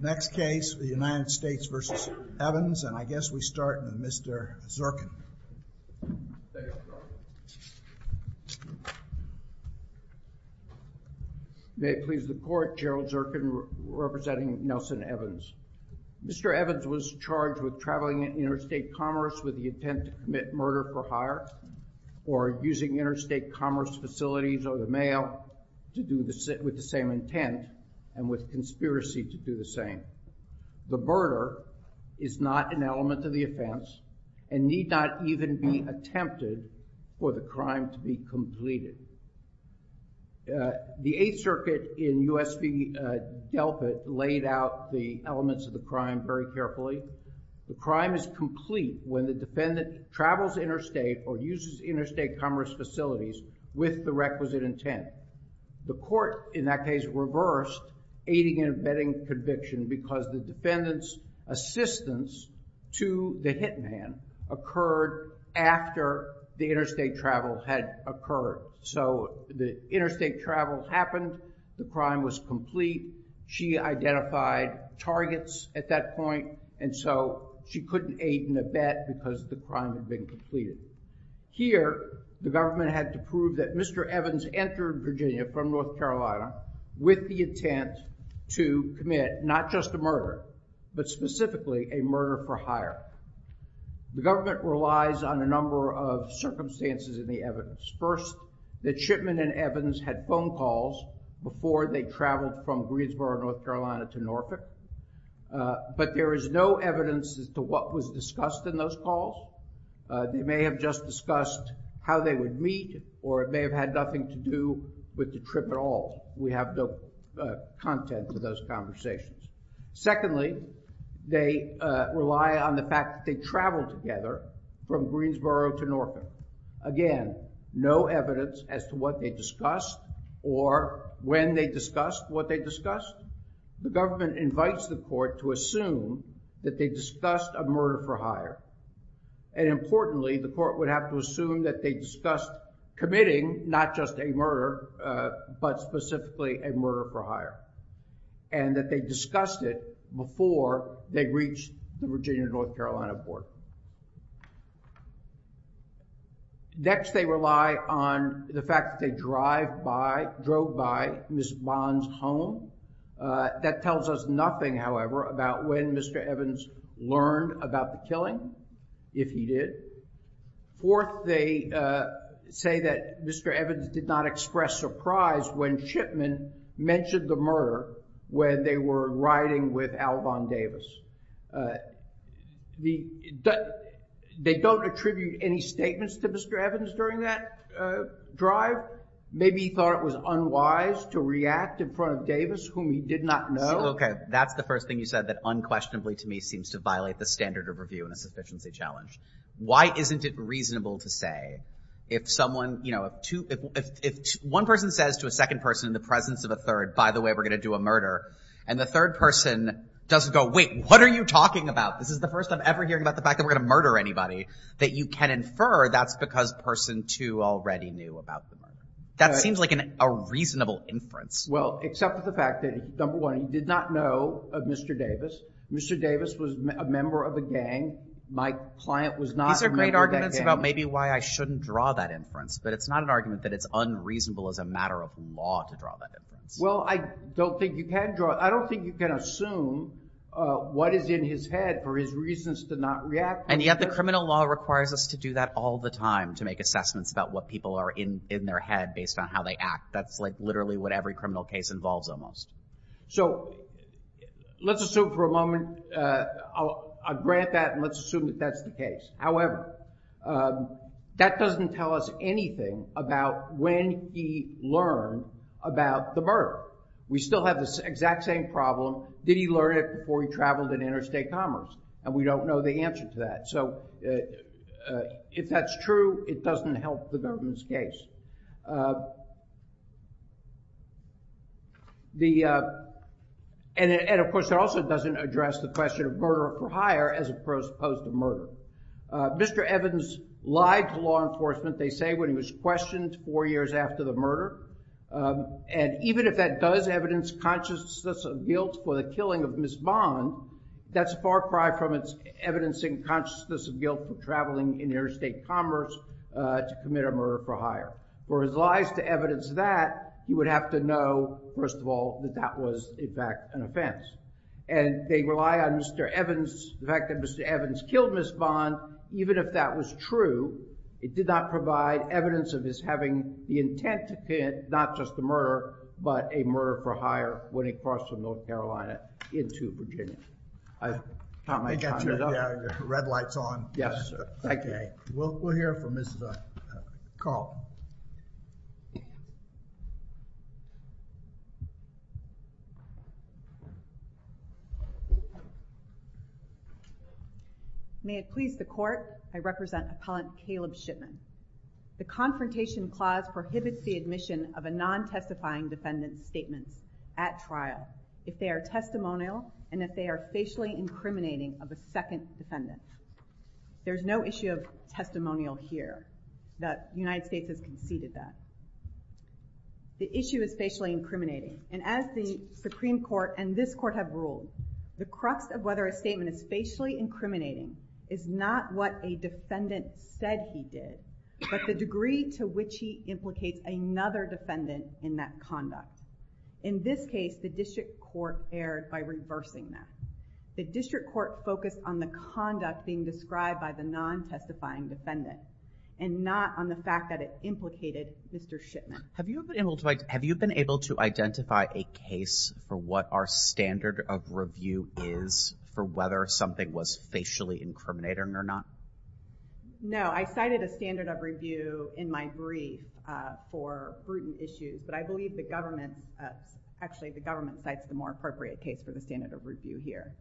Next case, the United States v. Evans, and I guess we start with Mr. Zirkin. May it please the court, Gerald Zirkin representing Nelson Evans. Mr. Evans was charged with traveling interstate commerce with the intent to commit murder for hire or using interstate commerce facilities or the mail with the same intent and with conspiracy to do the same. The murder is not an element of the offense and need not even be attempted for the crime to be completed. The Eighth Circuit in U.S. v. Delfin laid out the elements of the crime very carefully. The crime is complete when the defendant travels interstate or uses interstate commerce facilities with the requisite intent. The court in that case reversed aiding and abetting conviction because the defendant's assistance to the hit man occurred after the interstate travel had occurred. So the interstate travel happened, the crime was complete, she identified targets at that point, and so she couldn't aid and abet because the crime had been completed. Here, the government had to prove that Mr. Evans entered Virginia from North Carolina with the intent to commit not just a murder, but specifically a murder for hire. The government relies on a number of circumstances in the evidence. First, that Shipman and Evans had phone calls before they traveled from Greensboro, North Carolina to Norfolk. But there is no evidence as to what was discussed in those calls. They may have just discussed how they would meet, or it may have had nothing to do with the trip at all. We have no content for those conversations. Secondly, they rely on the fact that they traveled together from Greensboro to Norfolk. Again, no evidence as to what they discussed or when they discussed what they discussed. The government invites the court to assume that they discussed a murder for hire. And importantly, the court would have to assume that they discussed committing not just a murder, but specifically a murder for hire, and that they discussed it before they reached the Virginia-North Carolina border. Next, they rely on the fact that they drove by Ms. Bond's home. That tells us nothing, however, about when Mr. Evans learned about the killing, if he did. Fourth, they say that Mr. Evans did not express surprise when Shipman mentioned the murder when they were riding with Alvon Davis. They don't attribute any statements to Mr. Evans during that drive. Maybe he thought it was unwise to react in front of Davis, whom he did not know. Okay, that's the first thing you said that unquestionably to me seems to violate the standard of review in a sufficiency challenge. Why isn't it reasonable to say, if one person says to a second person in the presence of a third, by the way, we're going to do a murder, and the third person doesn't go, wait, what are you talking about? This is the first I'm ever hearing about the fact that we're going to murder anybody, that you can infer that's because person two already knew about the murder. That seems like a reasonable inference. Well, except for the fact that, number one, he did not know of Mr. Davis. Mr. Davis was a member of a gang. My client was not a member of that gang. These are great arguments about maybe why I shouldn't draw that inference. But it's not an argument that it's unreasonable as a matter of law to draw that inference. Well, I don't think you can draw it. I don't think you can assume what is in his head for his reasons to not react. And yet the criminal law requires us to do that all the time to make assessments about what people are in their head based on how they act. That's like literally what every criminal case involves almost. So let's assume for a moment, I'll grant that and let's assume that that's the case. However, that doesn't tell us anything about when he learned about the murder. We still have this exact same problem. Did he learn it before he traveled in interstate commerce? And we don't know the answer to that. So if that's true, it doesn't help the government's case. And of course, it also doesn't address the question of murder or prior as opposed to murder. Mr. Evans lied to law enforcement, they say, when he was questioned four years after the murder. And even if that does evidence consciousness of guilt for the killing of Ms. Bond, that's far cry from its evidencing consciousness of guilt for traveling in interstate commerce to commit a murder for hire. For his lies to evidence that, you would have to know, first of all, that that was in fact an offense. And they rely on Mr. Evans, the fact that Mr. Evans killed Ms. Bond, even if that was true, it did not provide evidence of his having the intent to commit not just a murder, but a murder for hire when he crossed from North Carolina into Virginia. I think I turned the red lights on. Yes, sir. Thank you. We'll hear from Ms. Carlton. May it please the Court, I represent Appellant Caleb Shipman. The Confrontation Clause prohibits the admission of a non-testifying defendant's statements at trial if they are testimonial and if they are facially incriminating of a second defendant. There's no issue of testimonial here. The United States has conceded that. The issue is facially incriminating, and as the Supreme Court and this Court have ruled, the crux of whether a statement is facially incriminating is not what a defendant said he did, but the degree to which he implicates another defendant in that conduct. In this case, the District Court erred by reversing that. The District Court focused on the conduct being described by the non-testifying defendant and not on the fact that it implicated Mr. Shipman. Have you been able to identify a case for what our standard of review is for whether something was facially incriminating or not? No, I cited a standard of review in my brief for prudent issues, but I believe the government actually cites the more appropriate case for the standard of review here.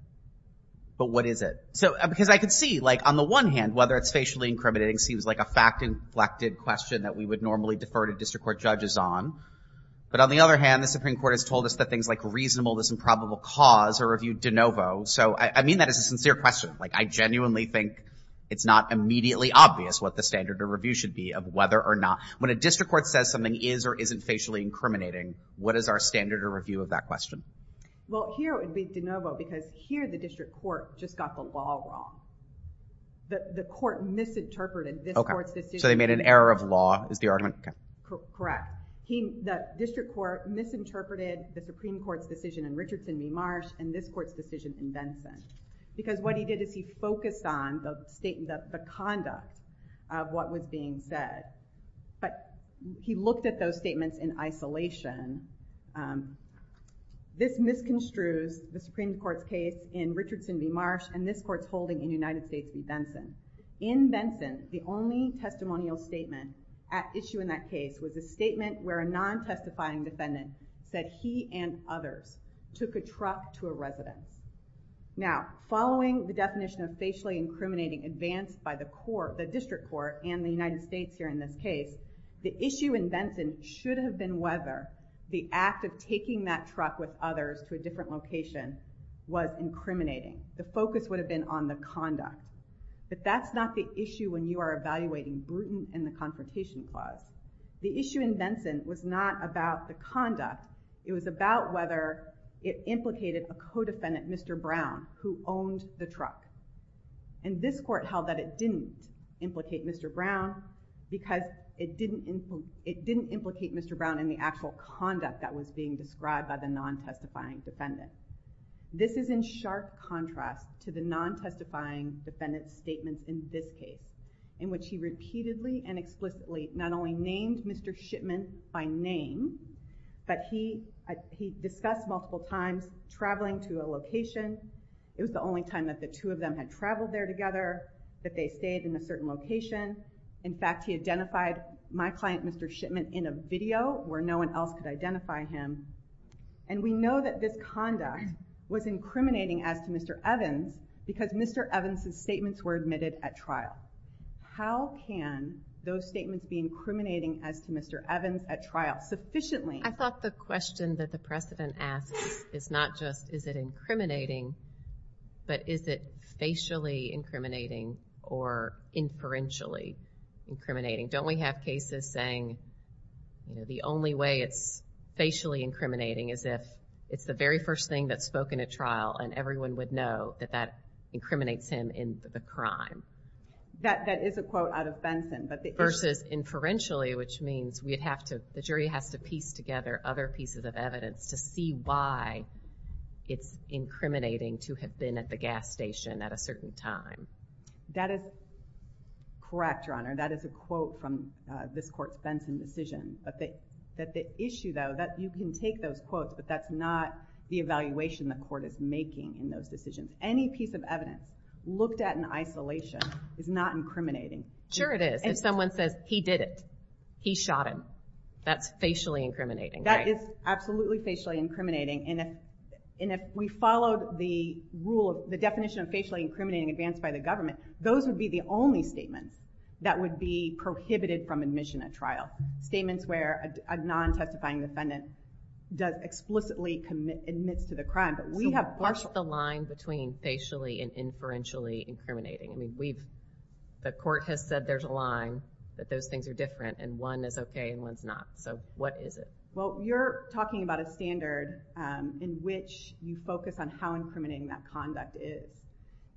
But what is it? Because I could see, like, on the one hand, whether it's facially incriminating seems like a fact-inflected question that we would normally defer to District Court judges on, but on the other hand, the Supreme Court has told us that things like reasonable, there's some probable cause are reviewed de novo, so I mean that as a sincere question. Like, I genuinely think it's not immediately obvious what the standard of review should be of whether or not when a District Court says something is or isn't facially incriminating, what is our standard of review of that question? Well, here it would be de novo because here the District Court just got the law wrong. The Court misinterpreted this Court's decision. Okay, so they made an error of law is the argument? Correct. The District Court misinterpreted the Supreme Court's decision in Richardson v. Marsh and this Court's decision in Benson because what he did is he focused on the conduct of what was being said. But he looked at those statements in isolation. This misconstrues the Supreme Court's case in Richardson v. Marsh and this Court's holding in the United States v. Benson. In Benson, the only testimonial statement at issue in that case was a statement where a non-testifying defendant said he and others took a truck to a residence. Now, following the definition of facially incriminating advanced by the District Court and the United States here in this case, the issue in Benson should have been whether the act of taking that truck with others to a different location was incriminating. The focus would have been on the conduct. But that's not the issue when you are evaluating Bruton and the Confrontation Clause. The issue in Benson was not about the conduct. It was about whether it implicated a co-defendant, Mr. Brown, who owned the truck. And this Court held that it didn't implicate Mr. Brown because it didn't implicate Mr. Brown in the actual conduct that was being described by the non-testifying defendant. This is in sharp contrast to the non-testifying defendant's statements in this case in which he repeatedly and explicitly not only named Mr. Shipman by name but he discussed multiple times traveling to a location. It was the only time that the two of them had traveled there together, that they stayed in a certain location. In fact, he identified my client, Mr. Shipman, in a video where no one else could identify him. And we know that this conduct was incriminating as to Mr. Evans because Mr. Evans' statements were admitted at trial. How can those statements be incriminating as to Mr. Evans at trial? I thought the question that the precedent asks is not just is it incriminating but is it facially incriminating or inferentially incriminating? Don't we have cases saying the only way it's facially incriminating is if it's the very first thing that's spoken at trial and everyone would know that that incriminates him in the crime. That is a quote out of Benson. Versus inferentially, which means the jury has to piece together other pieces of evidence to see why it's incriminating to have been at the gas station at a certain time. That is correct, Your Honor. That is a quote from this court's Benson decision. But the issue, though, that you can take those quotes but that's not the evaluation the court is making in those decisions. Any piece of evidence looked at in isolation is not incriminating. Sure it is. If someone says he did it, he shot him, that's facially incriminating. That is absolutely facially incriminating. And if we followed the definition of facially incriminating advanced by the government, those would be the only statements that would be prohibited from admission at trial. Statements where a non-testifying defendant explicitly admits to the crime. We have part of the line between facially and inferentially incriminating. The court has said there's a line that those things are different and one is okay and one's not. So what is it? Well, you're talking about a standard in which you focus on how incriminating that conduct is.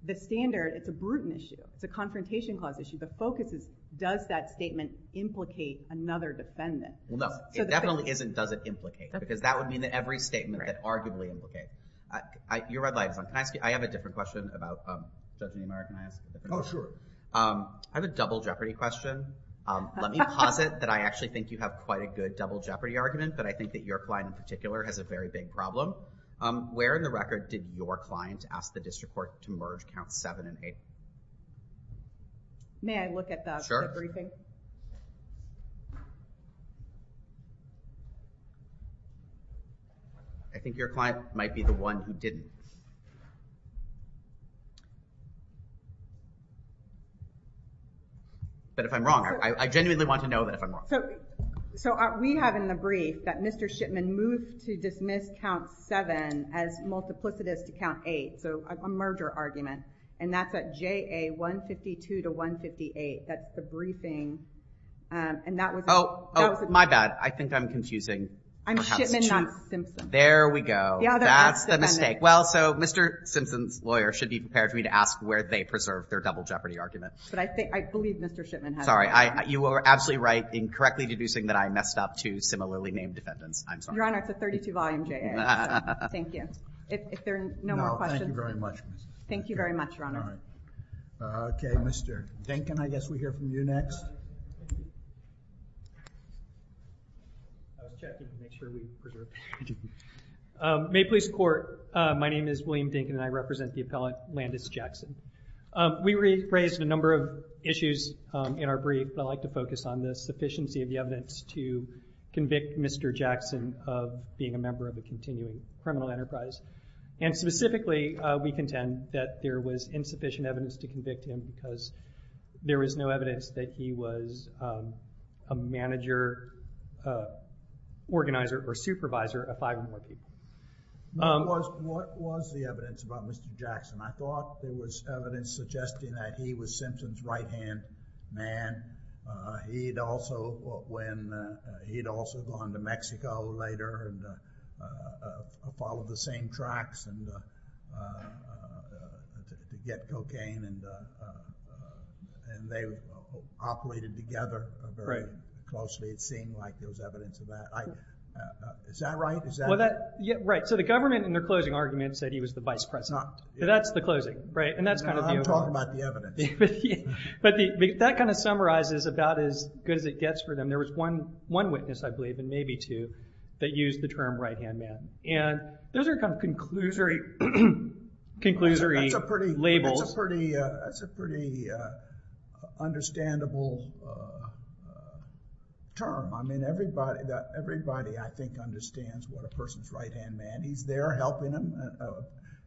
The standard, it's a brutal issue. It's a confrontation clause issue. The focus is does that statement implicate another defendant. No, it definitely isn't does it implicate because that would mean that every statement that arguably implicates. Your red light is on. Can I ask you, I have a different question about Judge Niemeyer. Can I ask a different question? Oh, sure. I have a double jeopardy question. Let me posit that I actually think you have quite a good double jeopardy argument, but I think that your client in particular has a very big problem. Where in the record did your client ask the district court to merge counts 7 and 8? May I look at the briefing? I think your client might be the one who didn't. But if I'm wrong, I genuinely want to know that if I'm wrong. So we have in the brief that Mr. Shipman moved to dismiss count 7 as multiplicitous to count 8, so a merger argument, and that's at JA 152 to 158. That's the briefing, and that was it. Oh, my bad. I think I'm confusing. I'm Shipman, not Simpson. There we go. That's the mistake. Well, so Mr. Simpson's lawyer should be prepared for me to ask where they preserved their double jeopardy argument. But I believe Mr. Shipman has it. Sorry, you are absolutely right in correctly deducing that I messed up two similarly named defendants. I'm sorry. Your Honor, it's a 32 volume JA. Thank you. If there are no more questions. No, thank you very much. Thank you very much, Your Honor. All right. Okay, Mr. Dinkin, I guess we hear from you next. May police court. My name is William Dinkin, and I represent the appellate Landis Jackson. We raised a number of issues in our brief, but I'd like to focus on the sufficiency of the evidence to convict Mr. Jackson of being a member of the continuing criminal enterprise. And specifically, we contend that there was insufficient evidence to convict him because there was no evidence that he was a manager, organizer, or supervisor of five or more people. What was the evidence about Mr. Jackson? I thought there was evidence suggesting that he was Simpson's right-hand man. He had also gone to Mexico later and followed the same tracks to get cocaine, and they operated together very closely. It seemed like there was evidence of that. Is that right? Right. So the government, in their closing argument, said he was the vice president. That's the closing, right? I'm talking about the evidence. But that kind of summarizes about as good as it gets for them. There was one witness, I believe, and maybe two, that used the term right-hand man. And those are kind of conclusory labels. That's a pretty understandable term. I mean, everybody, I think, understands what a person's right-hand man. He's there helping him,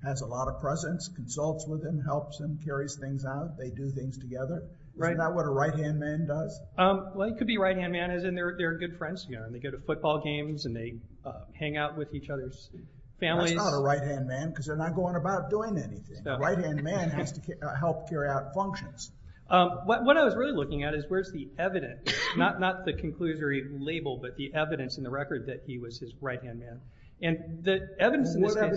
has a lot of presence, consults with him, helps him, carries things out. They do things together. Right. Isn't that what a right-hand man does? Well, he could be right-hand man as in they're good friends together. They go to football games and they hang out with each other's families. That's not a right-hand man because they're not going about doing anything. A right-hand man has to help carry out functions. What I was really looking at is where's the evidence, not the conclusory label, but the evidence in the record that he was his right-hand man. And the evidence in this case— I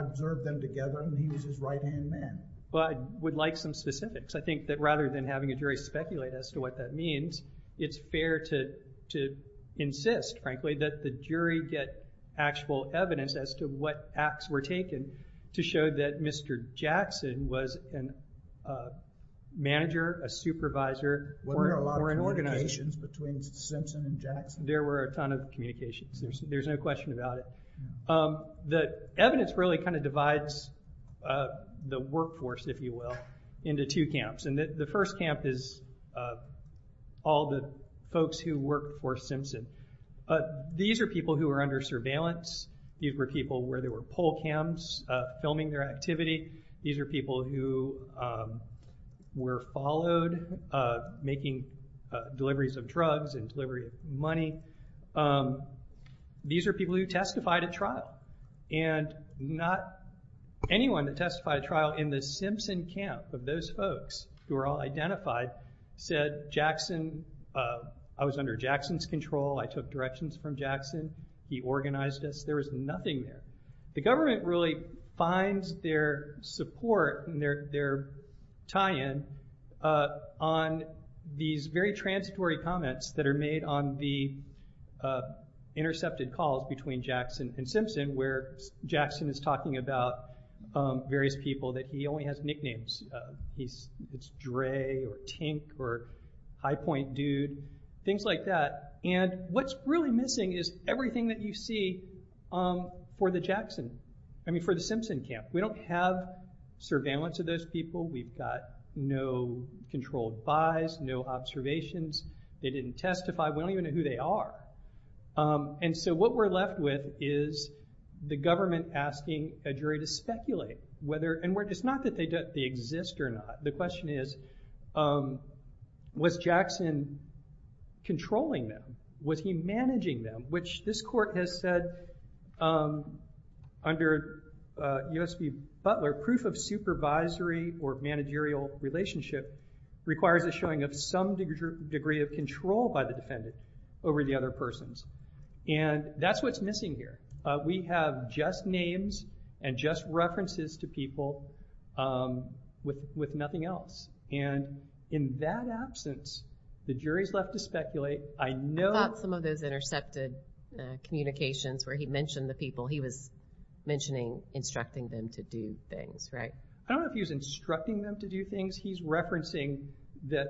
observed them together and he was his right-hand man. Well, I would like some specifics. I think that rather than having a jury speculate as to what that means, it's fair to insist, frankly, that the jury get actual evidence as to what acts were taken to show that Mr. Jackson was a manager, a supervisor, or an organizer. Were there a lot of communications between Simpson and Jackson? There were a ton of communications. There's no question about it. The evidence really kind of divides the workforce, if you will, into two camps. The first camp is all the folks who worked for Simpson. These are people who were under surveillance. These were people where there were poll cams filming their activity. These are people who were followed making deliveries of drugs and delivery of money. These are people who testified at trial. And not anyone that testified at trial in the Simpson camp of those folks, who are all identified, said, I was under Jackson's control, I took directions from Jackson, he organized this. There was nothing there. The government really finds their support and their tie-in on these very transitory comments that are made on the intercepted calls between Jackson and Simpson, where Jackson is talking about various people that he only has nicknames of. It's Dre or Tink or High Point Dude, things like that. And what's really missing is everything that you see for the Simpson camp. We don't have surveillance of those people. We've got no controlled buys, no observations. They didn't testify. We don't even know who they are. And so what we're left with is the government asking a jury to speculate. And it's not that they exist or not. The question is, was Jackson controlling them? Was he managing them? Which this court has said, under USP Butler, proof of supervisory or managerial relationship requires a showing of some degree of control by the defendant over the other persons. And that's what's missing here. We have just names and just references to people with nothing else. And in that absence, the jury's left to speculate. I thought some of those intercepted communications where he mentioned the people, he was mentioning instructing them to do things, right? I don't know if he was instructing them to do things. He's referencing that,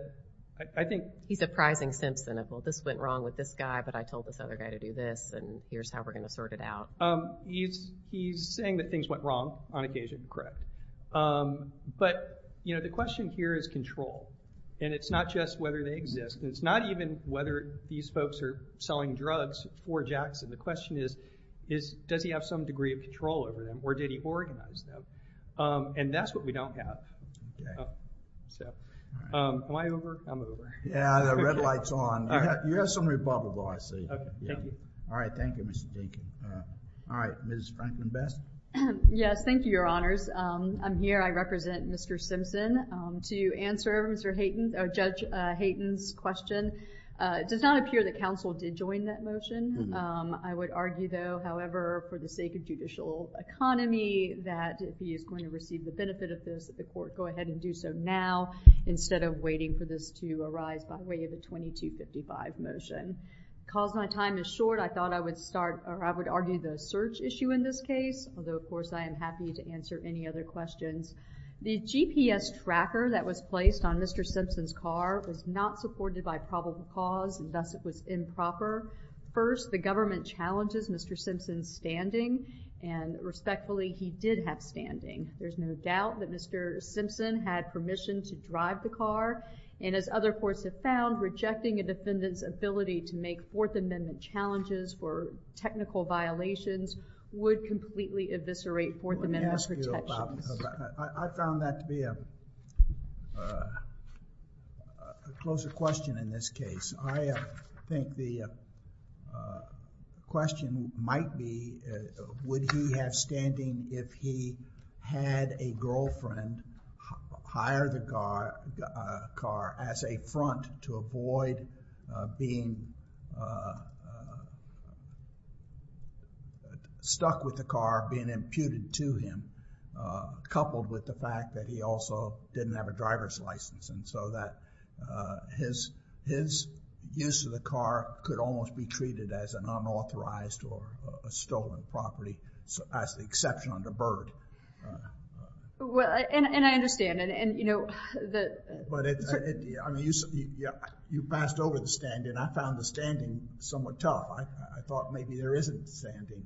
I think— He's apprising Simpson of, well, this went wrong with this guy, but I told this other guy to do this, and here's how we're going to sort it out. He's saying that things went wrong on occasion, correct. But the question here is control. And it's not just whether they exist. And it's not even whether these folks are selling drugs for Jackson. The question is, does he have some degree of control over them, or did he organize them? And that's what we don't have. Am I over? I'm over. Yeah, the red light's on. You have some rebuttable, I see. All right, thank you, Mr. Dinkin. All right, Ms. Franklin-Best? Yes, thank you, Your Honors. I'm here. I represent Mr. Simpson. I have a motion to answer Judge Hayton's question. It does not appear that counsel did join that motion. I would argue, though, however, for the sake of judicial economy, that if he is going to receive the benefit of this, that the court go ahead and do so now instead of waiting for this to arise by way of a 2255 motion. Because my time is short, I thought I would argue the search issue in this case, although, of course, I am happy to answer any other questions. The GPS tracker that was placed on Mr. Simpson's car was not supported by probable cause, and thus it was improper. First, the government challenges Mr. Simpson's standing, and respectfully, he did have standing. There's no doubt that Mr. Simpson had permission to drive the car, and as other courts have found, rejecting a defendant's ability to make Fourth Amendment challenges for technical violations would completely eviscerate Fourth Amendment protections. I found that to be a closer question in this case. I think the question might be, would he have standing if he had a girlfriend hire the car as a front to avoid being stuck with the car, being imputed to him, coupled with the fact that he also didn't have a driver's license, and so that his use of the car could almost be treated as an unauthorized or a stolen property, as the exception of the bird. And I understand. But you passed over the standing. I found the standing somewhat tough. I thought maybe there isn't standing.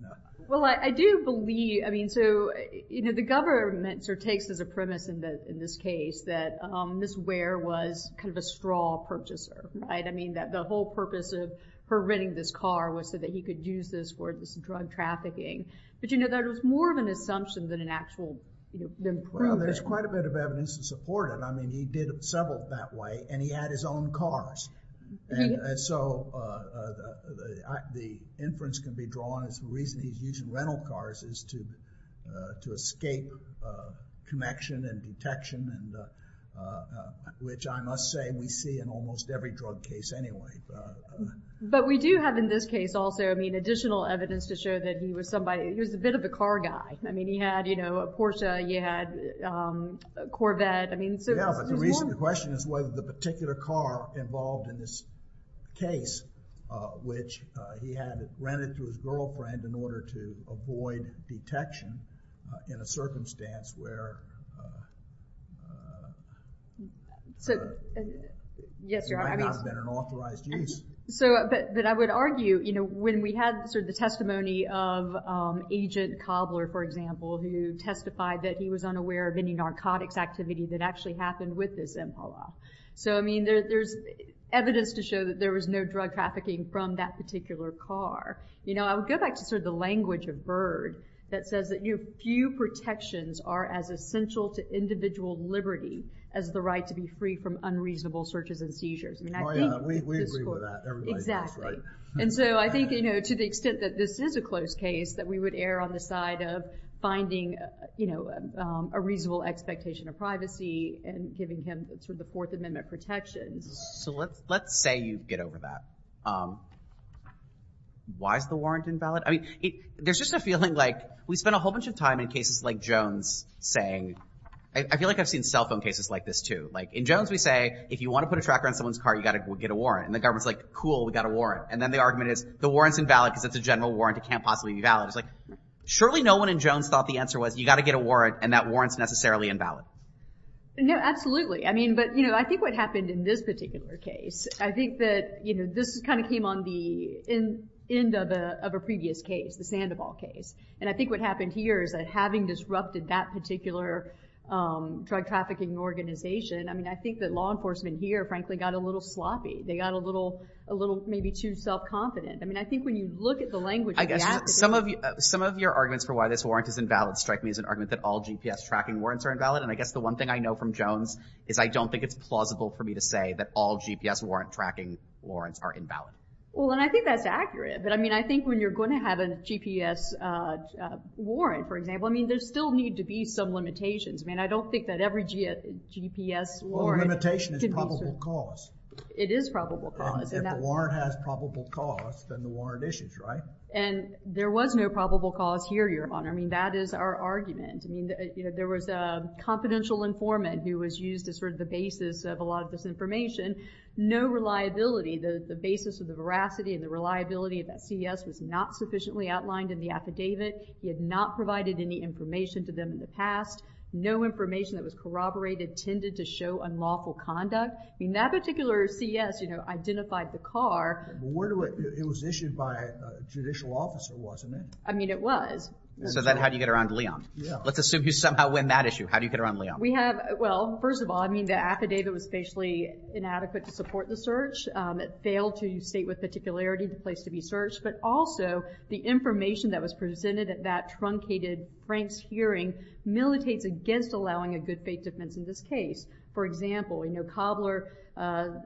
Well, I do believe. I mean, so the government sort of takes as a premise in this case that Ms. Ware was kind of a straw purchaser, right? I mean, that the whole purpose of her renting this car was so that he could use this for drug trafficking. But you know, that was more of an assumption than an actual proof. Well, there's quite a bit of evidence to support it. I mean, he did several that way, and he had his own cars. And so the inference can be drawn as the reason he's using rental cars is to escape connection and detection, which I must say we see in almost every drug case anyway. But we do have in this case also, I mean, additional evidence to show that he was a bit of a car guy. I mean, he had, you know, a Porsche. He had a Corvette. Yeah, but the question is whether the particular car involved in this case, which he had rented to his girlfriend in order to avoid detection in a circumstance where it might not have been an authorized use. But I would argue, you know, when we had sort of the testimony of Agent Cobbler, for example, who testified that he was unaware of any narcotics activity that actually happened with this Impala. So I mean, there's evidence to show that there was no drug trafficking from that particular car. You know, I would go back to sort of the language of Byrd that says that few protections are as essential to individual liberty as the right to be free from unreasonable searches and seizures. Oh, yeah, we agree with that. Exactly. And so I think, you know, to the extent that this is a close case, that we would err on the side of finding, you know, a reasonable expectation of privacy and giving him sort of the Fourth Amendment protections. So let's say you get over that. Why is the warrant invalid? I mean, there's just a feeling like we spend a whole bunch of time in cases like Jones saying, I feel like I've seen cell phone cases like this too. Like in Jones we say, if you want to put a tracker on someone's car, you've got to get a warrant. And the government's like, cool, we've got a warrant. And then the argument is, the warrant's invalid because it's a general warrant, it can't possibly be valid. It's like, surely no one in Jones thought the answer was, you've got to get a warrant and that warrant's necessarily invalid. No, absolutely. I mean, but, you know, I think what happened in this particular case, I think that, you know, this kind of came on the end of a previous case, the Sandoval case. And I think what happened here is that having disrupted that particular drug trafficking organization, I mean, I think that law enforcement here, frankly, got a little sloppy. They got a little maybe too self-confident. I mean, I think when you look at the language of the attitude. I guess some of your arguments for why this warrant is invalid strike me as an argument that all GPS tracking warrants are invalid. And I guess the one thing I know from Jones is I don't think it's plausible for me to say that all GPS warrant tracking warrants are invalid. Well, and I think that's accurate. But, I mean, I think when you're going to have a GPS warrant, for example, I mean, there still need to be some limitations. I mean, I don't think that every GPS warrant could be— Well, a limitation is probable cause. It is probable cause. If the warrant has probable cause, then the warrant issues, right? And there was no probable cause here, Your Honor. I mean, that is our argument. I mean, there was a confidential informant who was used as sort of the basis of a lot of this information. No reliability, the basis of the veracity and the reliability of that CES was not sufficiently outlined in the affidavit. He had not provided any information to them in the past. No information that was corroborated tended to show unlawful conduct. I mean, that particular CES, you know, identified the car. But where do it—it was issued by a judicial officer, wasn't it? I mean, it was. So then how do you get around Leon? Let's assume you somehow win that issue. How do you get around Leon? We have—well, first of all, I mean, the affidavit was facially inadequate to support the search. It failed to state with particularity the place to be searched. But also, the information that was presented at that truncated Frank's hearing militates against allowing a good faith defense in this case. For example, you know, Cobbler's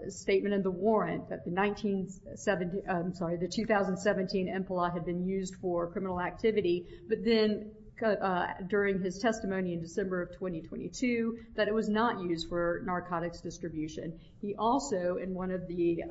statement in the warrant that the 1917— I'm sorry, the 2017 MPLA had been used for criminal activity, but then during his testimony in December of 2022 that it was not used for narcotics distribution. He also, in one of the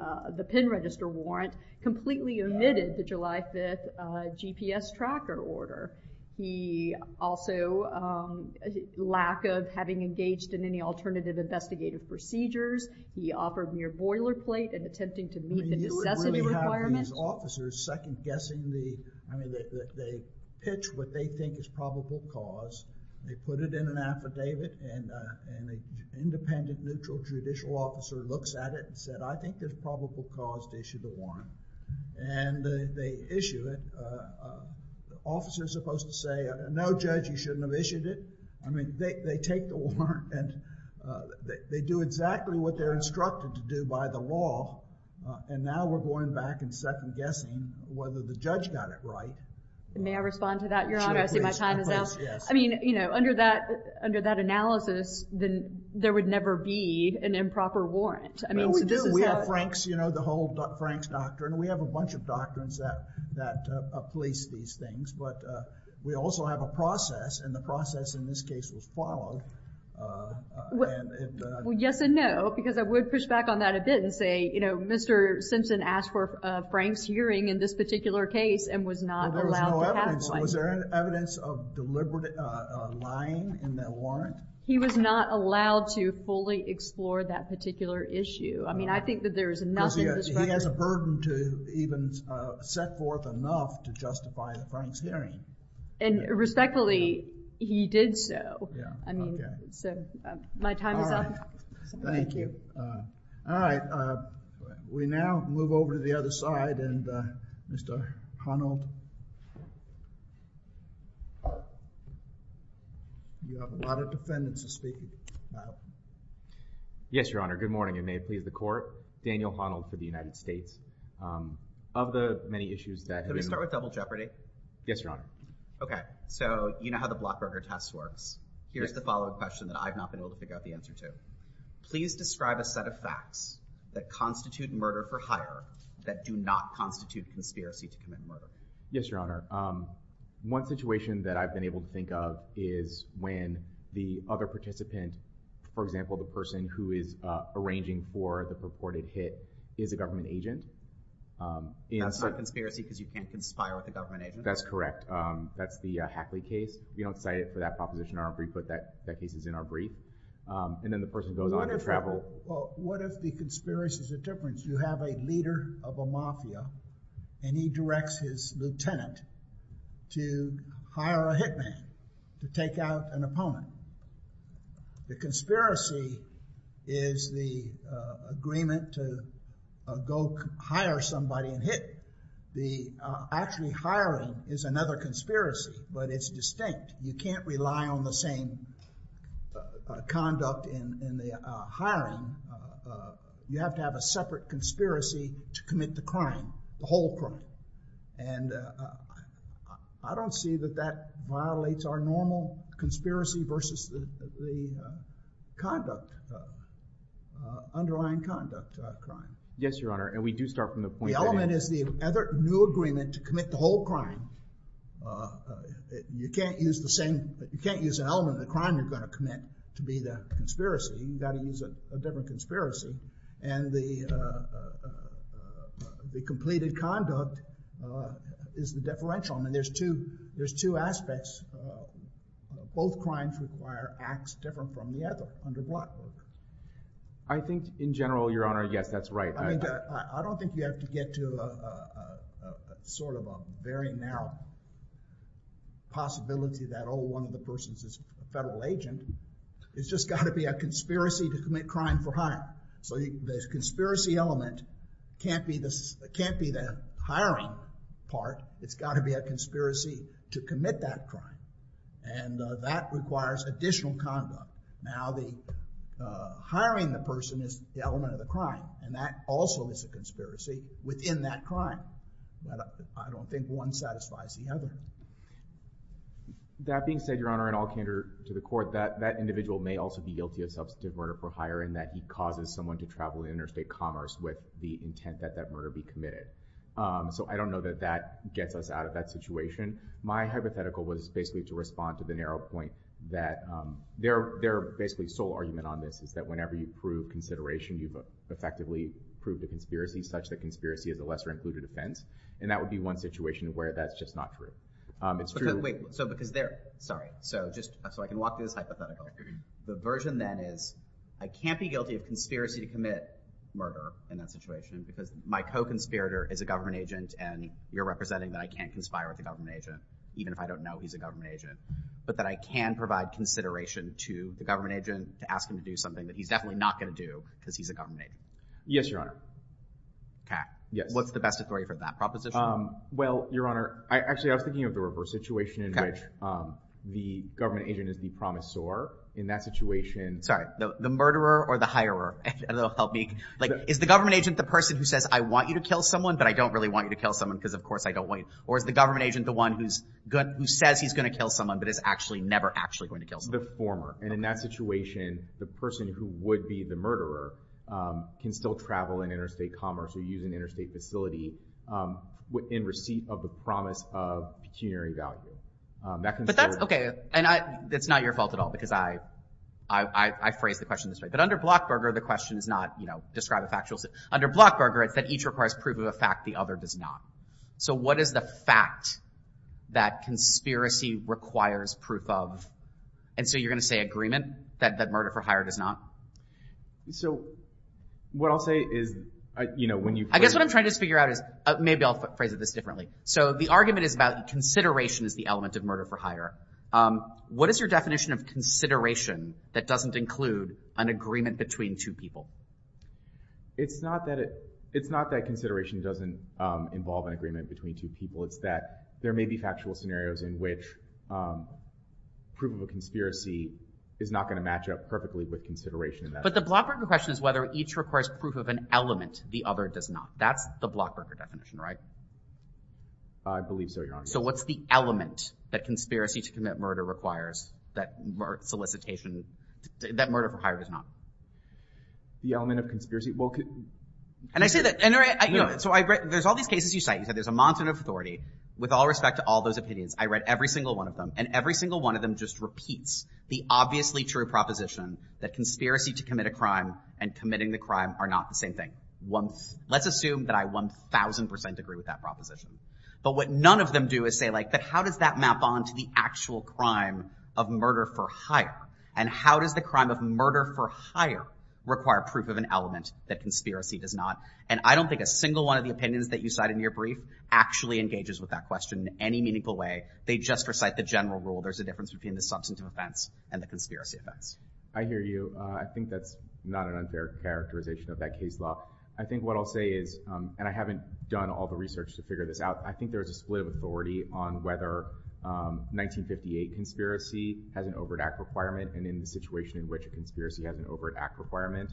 pen register warrant, completely omitted the July 5th GPS tracker order. He also—lack of having engaged in any alternative investigative procedures. He offered mere boilerplate in attempting to meet the necessity requirement. You would really have these officers second-guessing the— I mean, they pitch what they think is probable cause. They put it in an affidavit, and an independent neutral judicial officer looks at it and said, I think there's probable cause to issue the warrant. And they issue it. Officers are supposed to say, no judge, you shouldn't have issued it. I mean, they take the warrant, and they do exactly what they're instructed to do by the law. And now we're going back and second-guessing whether the judge got it right. And may I respond to that, Your Honor? I see my time is up. I mean, you know, under that analysis, there would never be an improper warrant. No, we do. We have Frank's, you know, the whole Frank's doctrine. We have a bunch of doctrines that police these things. But we also have a process, and the process in this case was followed. Well, yes and no, because I would push back on that a bit and say, you know, Mr. Simpson asked for Frank's hearing in this particular case and was not allowed to have one. There was no evidence. Was there any evidence of deliberate lying in that warrant? He was not allowed to fully explore that particular issue. I mean, I think that there is nothing— He has a burden to even set forth enough to justify Frank's hearing. And respectfully, he did so. I mean, so my time is up. Thank you. All right. We now move over to the other side, and Mr. Honnold. You have a lot of defendants to speak about. Yes, Your Honor. Good morning, and may it please the Court. Daniel Honnold for the United States. Of the many issues that— Can we start with double jeopardy? Yes, Your Honor. Okay. So you know how the blockburger test works. Here's the following question that I've not been able to figure out the answer to. Please describe a set of facts that constitute murder for hire that do not constitute conspiracy to commit murder. Yes, Your Honor. One situation that I've been able to think of is when the other participant, for example, the person who is arranging for the purported hit, is a government agent. That's not conspiracy because you can't conspire with a government agent? That's correct. That's the Hackley case. We don't cite it for that proposition in our brief, but that case is in our brief. And then the person goes on to travel— What if the conspiracy is a difference? You have a leader of a mafia, and he directs his lieutenant to hire a hitman to take out an opponent. The conspiracy is the agreement to go hire somebody and hit. The actually hiring is another conspiracy, but it's distinct. You can't rely on the same conduct in the hiring. You have to have a separate conspiracy to commit the crime, the whole crime. And I don't see that that violates our normal conspiracy versus the conduct, underlying conduct crime. Yes, Your Honor, and we do start from the point that— The element is the new agreement to commit the whole crime. You can't use an element of the crime you're going to commit to be the conspiracy. You've got to use a different conspiracy. And the completed conduct is the differential. I mean, there's two aspects. Both crimes require acts different from the other under Blackburn. I think, in general, Your Honor, yes, that's right. I mean, I don't think we have to get to sort of a very narrow possibility that, oh, one of the persons is a federal agent. It's just got to be a conspiracy to commit crime for hire. So the conspiracy element can't be the hiring part. It's got to be a conspiracy to commit that crime. And that requires additional conduct. Now, hiring the person is the element of the crime, and that also is a conspiracy within that crime. I don't think one satisfies the other. That being said, Your Honor, in all candor to the court, that individual may also be guilty of substantive murder for hire in that he causes someone to travel interstate commerce with the intent that that murder be committed. So I don't know that that gets us out of that situation. My hypothetical was basically to respond to the narrow point that their basically sole argument on this is that whenever you prove consideration, you've effectively proved the conspiracy such that conspiracy is a lesser-included offense. And that would be one situation where that's just not true. It's true. Sorry. So I can walk through this hypothetical. The version, then, is I can't be guilty of conspiracy to commit murder in that situation because my co-conspirator is a government agent, and you're representing that I can't conspire with a government agent, even if I don't know he's a government agent, but that I can provide consideration to the government agent to ask him to do something that he's definitely not going to do because he's a government agent. Yes, Your Honor. OK. What's the best authority for that proposition? Well, Your Honor, actually, I was thinking of the reverse situation in which the government agent is the promisor. In that situation... Sorry. The murderer or the hirer? Is the government agent the person who says, I want you to kill someone, but I don't really want you to kill someone because, of course, I don't want you... Or is the government agent the one who says he's going to kill someone but is actually never actually going to kill someone? The former. And in that situation, the person who would be the murderer can still travel in interstate commerce or use an interstate facility in receipt of the promise of pecuniary value. But that's OK. And that's not your fault at all because I phrased the question this way. But under Blockburger, the question is not, describe a factual... Under Blockburger, it's that each requires proof of a fact, the other does not. So what is the fact that conspiracy requires proof of? And so you're going to say agreement, that murder for hire does not? So what I'll say is... I guess what I'm trying to figure out is... Maybe I'll phrase it this differently. So the argument is about consideration as the element of murder for hire. What is your definition of consideration that doesn't include an agreement between two people? It's not that consideration doesn't involve an agreement between two people. It's that there may be factual scenarios in which proof of a conspiracy is not going to match up perfectly with consideration of that. But the Blockburger question is whether each requires proof of an element, the other does not. That's the Blockburger definition, right? I believe so, Your Honor. So what's the element that conspiracy to commit murder requires, that solicitation... that murder for hire does not? The element of conspiracy? And I say that... So there's all these cases you cite. You said there's a mountain of authority. With all respect to all those opinions, I read every single one of them, and every single one of them just repeats the obviously true proposition that conspiracy to commit a crime and committing the crime are not the same thing. Let's assume that I 1,000% agree with that proposition. But what none of them do is say, like, how does that map on to the actual crime of murder for hire? And how does the crime of murder for hire require proof of an element that conspiracy does not? And I don't think a single one of the opinions that you cite in your brief actually engages with that question in any meaningful way. They just recite the general rule. There's a difference between the substantive offense and the conspiracy offense. I hear you. I think that's not an unfair characterization of that case law. I think what I'll say is, and I haven't done all the research to figure this out, I think there's a split of authority on whether 1958 conspiracy has an overt act requirement, and in the situation in which a conspiracy has an overt act requirement,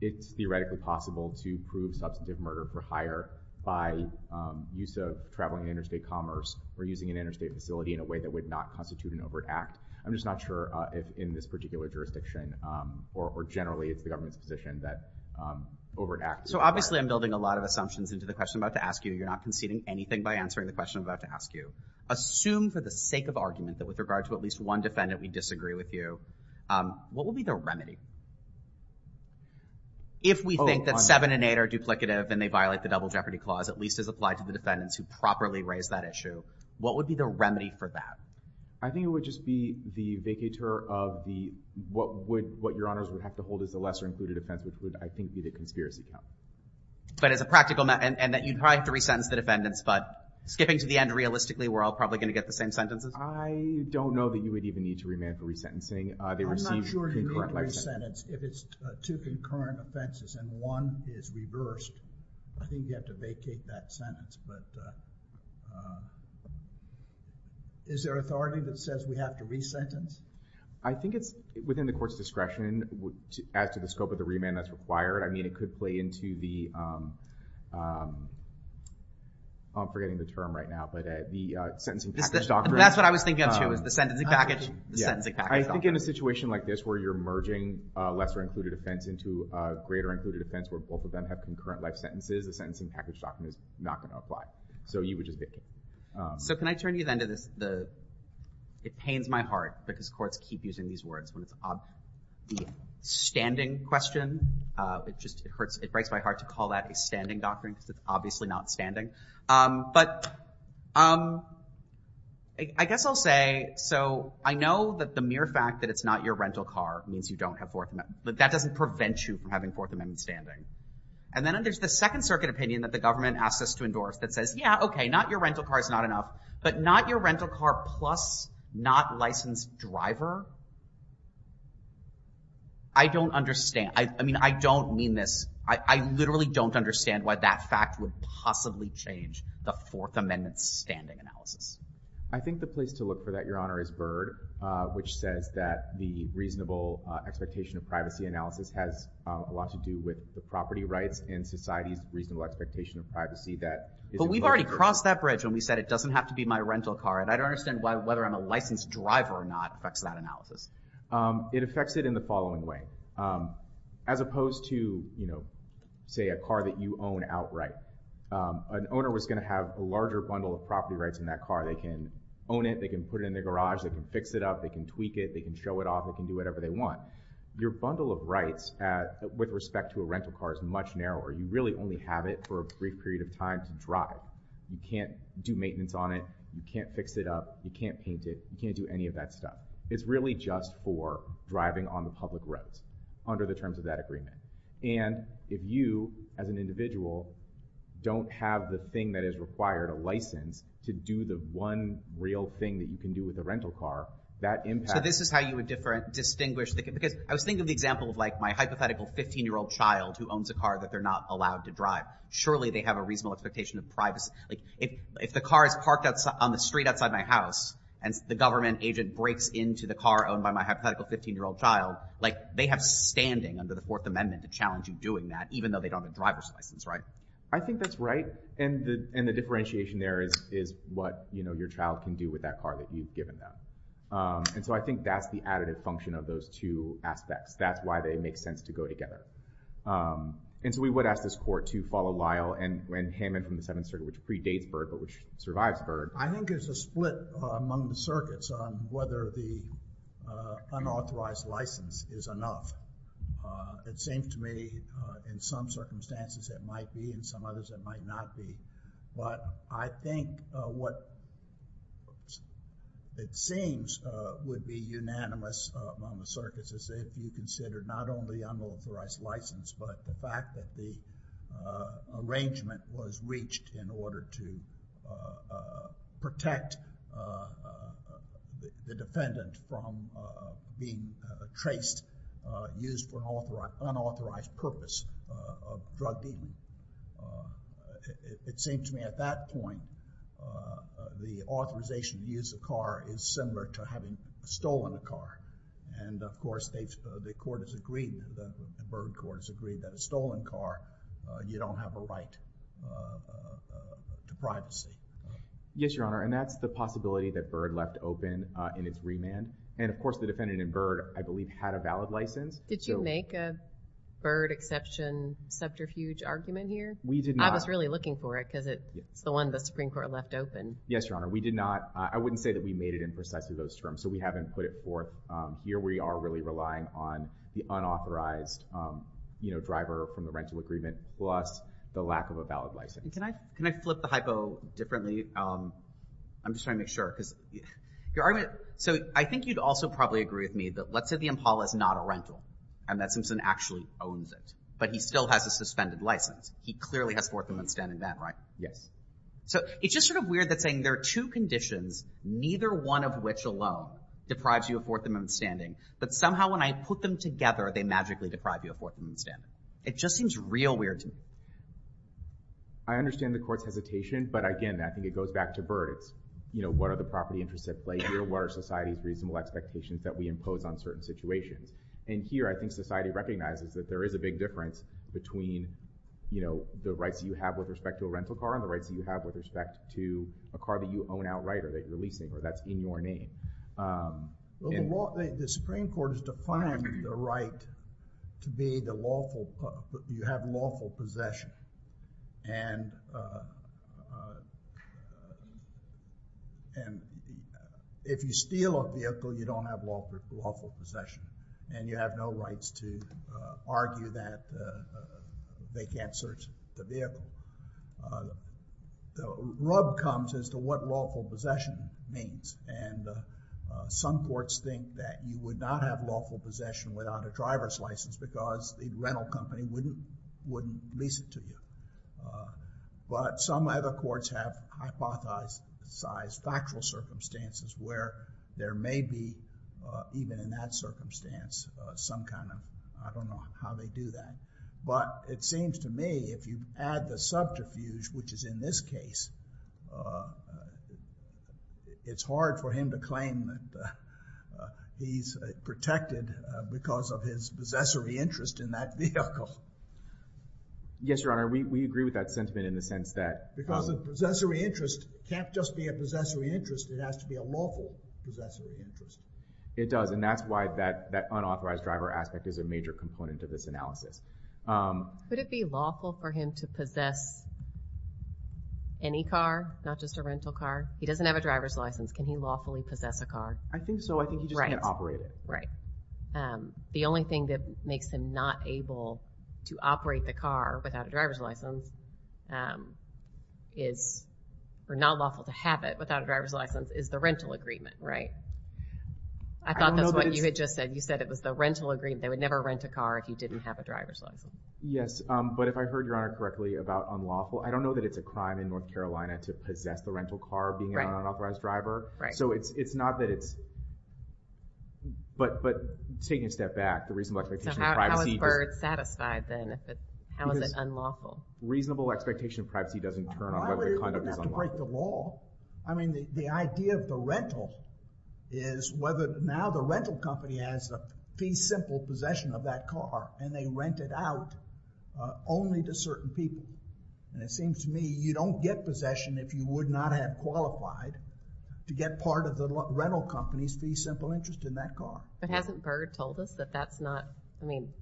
it's theoretically possible to prove substantive murder for hire by use of traveling interstate commerce or using an interstate facility in a way that would not constitute an overt act. I'm just not sure if in this particular jurisdiction or generally it's the government's position that overt acts require it. So obviously I'm building a lot of assumptions into the question I'm about to ask you. You're not conceding anything by answering the question I'm about to ask you. Assume for the sake of argument that with regard to at least one defendant we disagree with you, what would be the remedy? If we think that seven and eight are duplicative and they violate the Double Jeopardy Clause, at least as applied to the defendants who properly raise that issue, what would be the remedy for that? I think it would just be the vacateur of what Your Honors would have to hold as a lesser-included offense, which would, I think, be the conspiracy count. But as a practical matter, and that you'd probably have to resentence the defendants, but skipping to the end, realistically, we're all probably going to get the same sentences? I don't know that you would even need to remand for resentencing. I'm not sure to remand resentence if it's two concurrent offenses and one is reversed. I think you have to vacate that sentence. But is there authority that says we have to resentence? I think it's within the Court's discretion as to the scope of the remand that's required. I mean, it could play into the... I'm forgetting the term right now, but the Sentencing Package Doctrine. That's what I was thinking of, too, is the Sentencing Package Doctrine. I think in a situation like this where you're merging a lesser-included offense into a greater-included offense where both of them have concurrent life sentences, the Sentencing Package Doctrine is not going to apply. So you would just vacate. So can I turn you then to the... It pains my heart because courts keep using these words when it's the standing question. It breaks my heart to call that a standing doctrine because it's obviously not standing. But I guess I'll say, so I know that the mere fact that it's not your rental car means you don't have Fourth Amendment... That doesn't prevent you from having Fourth Amendment standing. And then there's the Second Circuit opinion that the government asks us to endorse that says, yeah, okay, not your rental car is not enough, but not your rental car plus not licensed driver? I don't understand. I mean, I don't mean this... I literally don't understand why that fact would possibly change the Fourth Amendment standing analysis. I think the place to look for that, Your Honor, is Byrd, which says that the reasonable expectation of privacy analysis has a lot to do with the property rights and society's reasonable expectation of privacy that... But we've already crossed that bridge when we said it doesn't have to be my rental car, and I don't understand why whether I'm a licensed driver or not affects that analysis. It affects it in the following way. As opposed to, you know, say, a car that you own outright, an owner was going to have a larger bundle of property rights in that car. They can own it, they can put it in their garage, they can fix it up, they can tweak it, they can show it off, they can do whatever they want. Your bundle of rights with respect to a rental car is much narrower. You really only have it for a brief period of time to drive. You can't do maintenance on it, you can't fix it up, you can't paint it, you can't do any of that stuff. It's really just for driving on the public roads under the terms of that agreement. And if you, as an individual, don't have the thing that is required, a license, to do the one real thing that you can do with a rental car, that impact... So this is how you would distinguish... I was thinking of the example of my hypothetical 15-year-old child who owns a car that they're not allowed to drive. Surely they have a reasonable expectation of privacy. If the car is parked on the street outside my house and the government agent breaks into the car owned by my hypothetical 15-year-old child, they have standing under the Fourth Amendment to challenge you doing that, even though they don't have a driver's license, right? I think that's right. And the differentiation there is what your child can do with that car that you've given them. And so I think that's the additive function of those two aspects. That's why they make sense to go together. And so we would ask this Court to follow Lyle and Hammond from the Seventh Circuit, which predates Byrd but which survives Byrd. I think there's a split among the circuits on whether the unauthorized license is enough. It seems to me in some circumstances it might be, in some others it might not be. But I think what it seems would be unanimous among the circuits is if you consider not only unauthorized license but the fact that the arrangement was reached in order to protect the defendant from being traced, used for unauthorized purpose of drug dealing. It seems to me at that point the authorization to use a car is similar to having stolen a car. And of course the Court has agreed, the Byrd Court has agreed that a stolen car, you don't have a right to privacy. Yes, Your Honor. And that's the possibility that Byrd left open in its remand. And of course the defendant in Byrd I believe had a valid license. Did you make a Byrd exception subterfuge argument here? We did not. I was really looking for it because it's the one the Supreme Court left open. Yes, Your Honor. We did not. I wouldn't say that we made it in precisely those terms. So we haven't put it forth. Here we are really relying on the unauthorized driver from the rental agreement plus the lack of a valid license. Can I flip the hypo differently? I'm just trying to make sure. So I think you'd also probably agree with me that let's say the Impala is not a rental, and that Simpson actually owns it, but he still has a suspended license. He clearly has Fourth Amendment standing then, right? Yes. So it's just sort of weird that saying there are two conditions, neither one of which alone deprives you of Fourth Amendment standing, but somehow when I put them together they magically deprive you of Fourth Amendment standing. It just seems real weird to me. I understand the Court's hesitation, but again, I think it goes back to Byrd. It's, you know, what are the property interests at play here? What are society's reasonable expectations that we impose on certain situations? And here I think society recognizes that there is a big difference between the rights that you have with respect to a rental car and the rights that you have with respect to a car that you own outright or that you're leasing or that's in your name. The Supreme Court has defined the right to be the lawful – you have lawful possession. And if you steal a vehicle, you don't have lawful possession and you have no rights to argue that they can't search the vehicle. The rub comes as to what lawful possession means and some courts think that you would not have lawful possession without a driver's license because the rental company wouldn't lease it to you. But some other courts have hypothesized factual circumstances where there may be, even in that circumstance, some kind of – I don't know how they do that. But it seems to me if you add the subterfuge, which is in this case, it's hard for him to claim that he's protected because of his possessory interest in that vehicle. Yes, Your Honor. We agree with that sentiment in the sense that – Because a possessory interest can't just be a possessory interest. It has to be a lawful possessory interest. It does and that's why that unauthorized driver aspect is a major component of this analysis. Would it be lawful for him to possess any car, not just a rental car? He doesn't have a driver's license. Can he lawfully possess a car? I think so. I think he just can't operate it. The only thing that makes him not able to operate the car without a driver's license is – or not lawful to have it without a driver's license is the rental agreement, right? I thought that's what you had just said. You said it was the rental agreement. They would never rent a car if you didn't have a driver's license. Yes, but if I heard Your Honor correctly about unlawful, I don't know that it's a crime in North Carolina to possess the rental car being an unauthorized driver. So it's not that it's – but taking a step back, the reasonable expectation of privacy – So how is Byrd satisfied then? How is it unlawful? Reasonable expectation of privacy doesn't turn on whether the conduct is unlawful. Why would it have to break the law? I mean the idea of the rental is whether – now the rental company has the fee simple possession of that car and they rent it out only to certain people. And it seems to me you don't get possession if you would not have qualified to get part of the rental company's fee simple interest in that car. But hasn't Byrd told us that that's not – I mean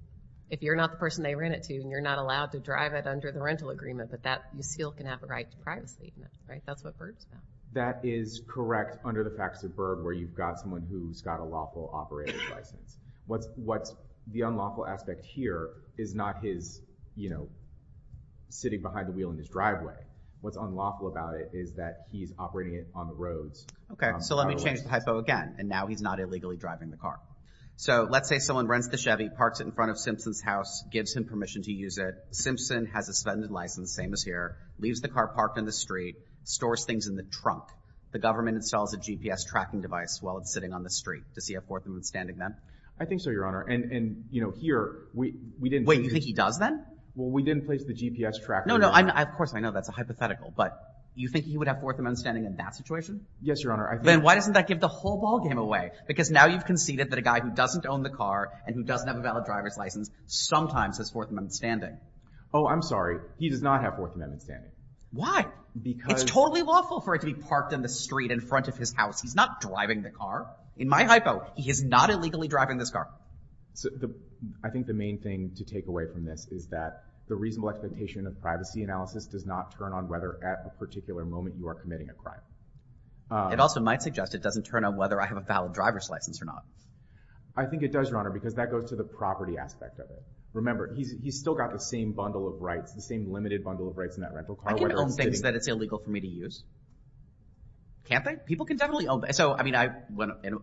if you're not the person they rent it to and you're not allowed to drive it under the rental agreement, but that – you still can have a right to privacy, right? That's what Byrd's about. That is correct under the practice of Byrd where you've got someone who's got a lawful operator's license. What's – the unlawful aspect here is not his, you know, sitting behind the wheel in his driveway. What's unlawful about it is that he's operating it on the roads. Okay. So let me change the hypo again. And now he's not illegally driving the car. So let's say someone rents the Chevy, parks it in front of Simpson's house, gives him permission to use it. Simpson has a suspended license, same as here, leaves the car parked in the street, stores things in the trunk. The government installs a GPS tracking device while it's sitting on the street. Does he have forthwith standing then? I think so, Your Honor. And, you know, here we didn't – Wait, you think he does then? Well, we didn't place the GPS tracking device. No, no. Of course, I know that's a hypothetical. But you think he would have forthwith standing in that situation? Yes, Your Honor. I think – Then why doesn't that give the whole ballgame away? Because now you've conceded that a guy who doesn't own the car and who doesn't have a valid driver's license sometimes has forthwith standing. Oh, I'm sorry. He does not have forthwith standing. Why? Because – It's totally lawful for it to be parked in the street in front of his house. He's not driving the car. In my hypo, he is not illegally driving this car. I think the main thing to take away from this is that the reasonable expectation of privacy analysis does not turn on whether at a particular moment you are committing a crime. It also might suggest it doesn't turn on whether I have a valid driver's license or not. I think it does, Your Honor, because that goes to the property aspect of it. Remember, he's still got the same bundle of rights, the same limited bundle of rights in that rental car. I can't own things that it's illegal for me to use. Can't I? People can definitely own – So, I mean,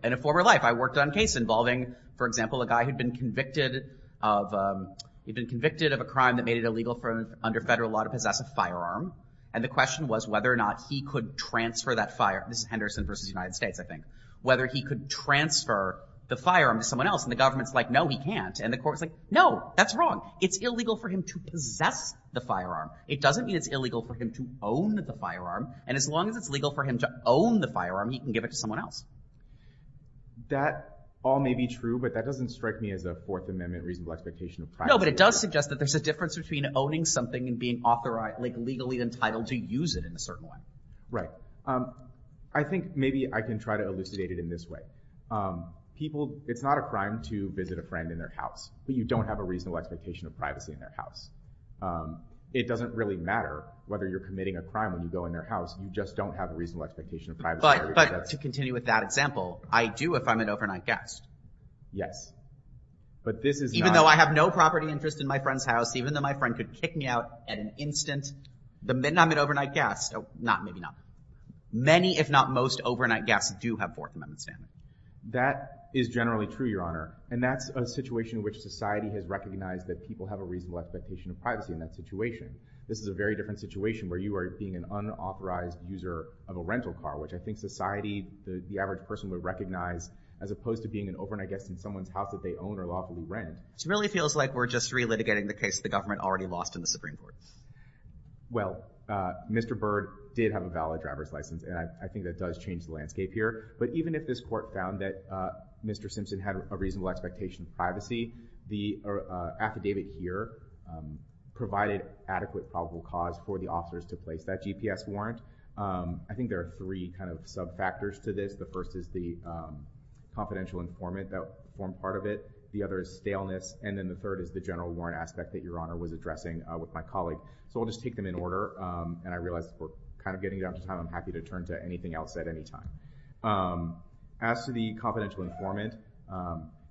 in a former life, I worked on a case involving, for example, a guy who'd been convicted of a crime that made it illegal under federal law to possess a firearm. And the question was whether or not he could transfer that firearm – this is Henderson v. United States, I think – whether he could transfer the firearm to someone else. And the government's like, no, he can't. And the court's like, no, that's wrong. It's illegal for him to possess the firearm. It doesn't mean it's illegal for him to own the firearm. And as long as it's legal for him to own the firearm, he can give it to someone else. That all may be true, but that doesn't strike me as a Fourth Amendment reasonable expectation of privacy. No, but it does suggest that there's a difference between owning something and being legally entitled to use it in a certain way. Right. I think maybe I can try to elucidate it in this way. It's not a crime to visit a friend in their house, but you don't have a reasonable expectation of privacy in their house. It doesn't really matter whether you're committing a crime when you go in their house. You just don't have a reasonable expectation of privacy. But to continue with that example, I do if I'm an overnight guest. Yes. But this is not— Even though I have no property interest in my friend's house, even though my friend could kick me out at an instant, then I'm an overnight guest. No, maybe not. Many, if not most, overnight guests do have Fourth Amendment stamina. That is generally true, Your Honor, and that's a situation in which society has recognized that people have a reasonable expectation of privacy in that situation. This is a very different situation where you are being an unauthorized user of a rental car, which I think society, the average person would recognize as opposed to being an overnight guest in someone's house that they own or lawfully rent. So it really feels like we're just relitigating the case the government already lost in the Supreme Court. Well, Mr. Byrd did have a valid driver's license, and I think that does change the landscape here. But even if this court found that Mr. Simpson had a reasonable expectation of privacy, the affidavit here provided adequate probable cause for the officers to place that GPS warrant. I think there are three kind of sub-factors to this. The first is the confidential informant that formed part of it. The other is staleness. And then the third is the general warrant aspect that Your Honor was addressing with my colleague. So I'll just take them in order, and I realize we're kind of getting down to time. I'm happy to turn to anything else at any time. As to the confidential informant,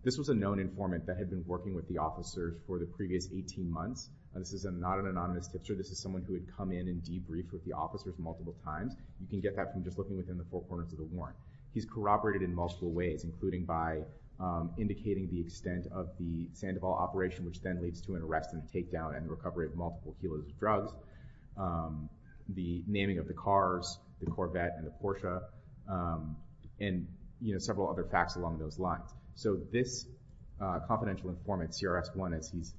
this was a known informant that had been working with the officers for the previous 18 months. This is not an anonymous tipster. This is someone who had come in and debriefed with the officers multiple times. You can get that from just looking within the four corners of the warrant. He's corroborated in multiple ways, including by indicating the extent of the Sandoval operation, which then leads to an arrest and takedown and recovery of multiple dealers' drugs, the naming of the cars, the Corvette and the Porsche, and several other facts along those lines. So this confidential informant, CRS 1, as he's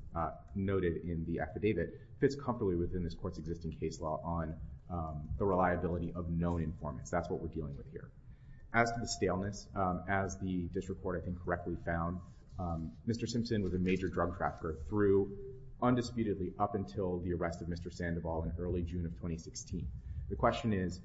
noted in the affidavit, fits comfortably within this court's existing case law on the reliability of known informants. That's what we're dealing with here. As to the staleness, as the district court incorrectly found, Mr. Simpson was a major drug trafficker through undisputedly up until the arrest of Mr. Sandoval in early June of 2016. The question is,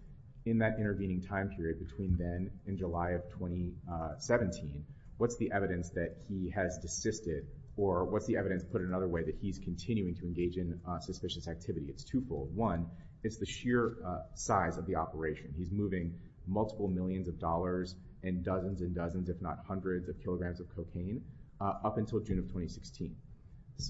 in that intervening time period between then and July of 2017, what's the evidence that he has desisted, or what's the evidence put another way that he's continuing to engage in suspicious activity? It's twofold. One, it's the sheer size of the operation. He's moving multiple millions of dollars and dozens and dozens, if not hundreds, of kilograms of cocaine up until June of 2016.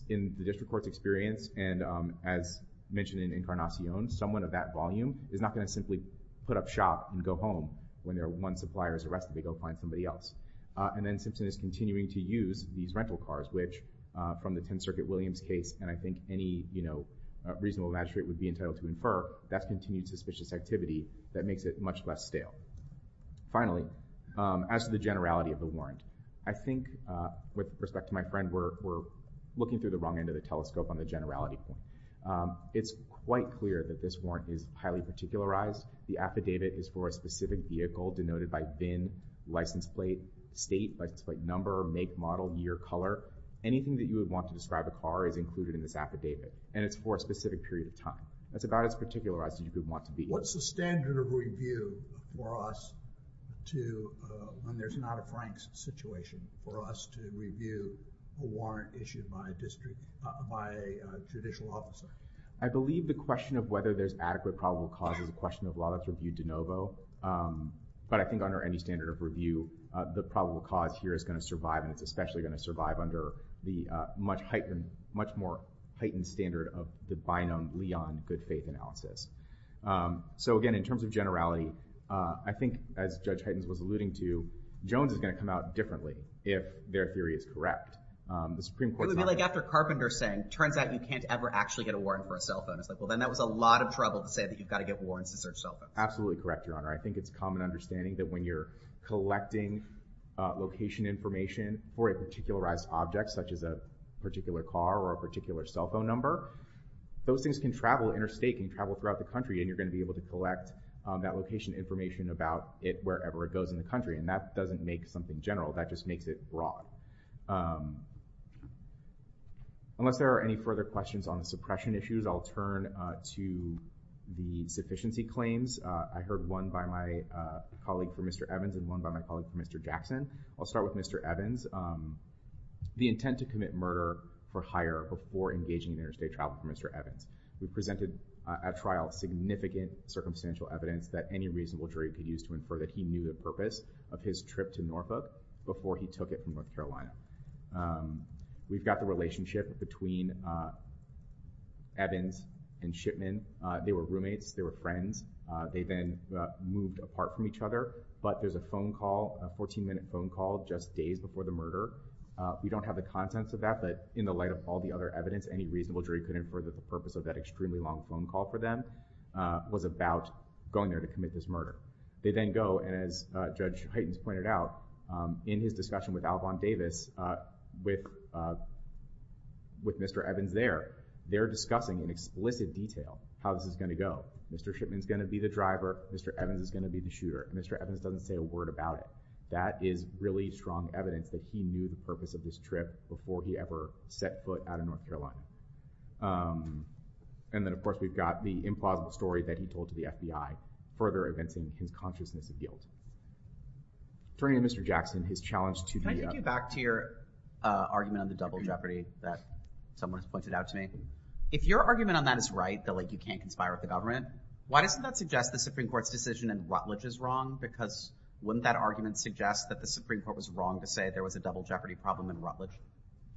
In the district court's experience, and as mentioned in Incarnacion, someone of that volume is not going to simply put up shop and go home when their one supplier is arrested and they go find somebody else. And then Simpson is continuing to use these rental cars, which, from the 10th Circuit Williams case and I think any reasonable magistrate would be entitled to infer, that's continued suspicious activity that makes it much less stale. Finally, as to the generality of the warrant, I think, with respect to my friend, we're looking through the wrong end of the telescope on the generality point. It's quite clear that this warrant is highly particularized. The affidavit is for a specific vehicle denoted by VIN, license plate, state, license plate number, make, model, year, color. Anything that you would want to describe a car is included in this affidavit, and it's for a specific period of time. That's about as particularized as you could want to be. What's the standard of review for us to, when there's not a Frank situation, for us to review a warrant issued by a district, by a judicial officer? I believe the question of whether there's adequate probable cause is a question of law that's reviewed de novo, but I think under any standard of review, the probable cause here is going to survive and it's especially going to survive under the much heightened, much more heightened standard of the binomially on good faith analysis. So again, in terms of generality, I think, as Judge Heitens was alluding to, Jones is going to come out differently if their theory is correct. It would be like after Carpenter saying, turns out you can't ever actually get a warrant for a cell phone. It's like, well, then that was a lot of trouble to say that you've got to get warrants to search cell phones. Absolutely correct, Your Honor. I think it's common understanding that when you're collecting location information for a particularized object, such as a particular car or a particular cell phone number, those things can travel interstate, can travel throughout the country, and you're going to be able to collect that location information about it wherever it goes in the country, and that doesn't make something general. That just makes it broad. Unless there are any further questions on the suppression issues, I'll turn to the sufficiency claims. I heard one by my colleague for Mr. Evans and one by my colleague for Mr. Jackson. I'll start with Mr. Evans. The intent to commit murder for hire before engaging in interstate travel for Mr. Evans. We presented at trial significant circumstantial evidence that any reasonable jury could use to infer that he knew the purpose of his trip to Norfolk before he took it from North Carolina. We've got the relationship between Evans and Shipman. They were roommates, they were friends. They then moved apart from each other, but there's a phone call, a 14-minute phone call, just days before the murder. We don't have the contents of that, but in the light of all the other evidence, any reasonable jury could infer that the purpose of that extremely long phone call for them was about going there to commit this murder. They then go, and as Judge Heightens pointed out, in his discussion with Alvon Davis, with Mr. Evans there, they're discussing in explicit detail how this is going to go. Mr. Shipman's going to be the driver, Mr. Evans is going to be the shooter. Mr. Evans doesn't say a word about it. That is really strong evidence that he knew the purpose of this trip before he ever set foot out of North Carolina. And then, of course, we've got the implausible story that he told to the FBI, further evincing his consciousness of guilt. Turning to Mr. Jackson, his challenge to the... Can I take you back to your argument on the double jeopardy that someone has pointed out to me? If your argument on that is right, that, like, you can't conspire with the government, why doesn't that suggest the Supreme Court's decision in Rutledge is wrong? Because wouldn't that argument suggest that the Supreme Court was wrong to say there was a double jeopardy problem in Rutledge?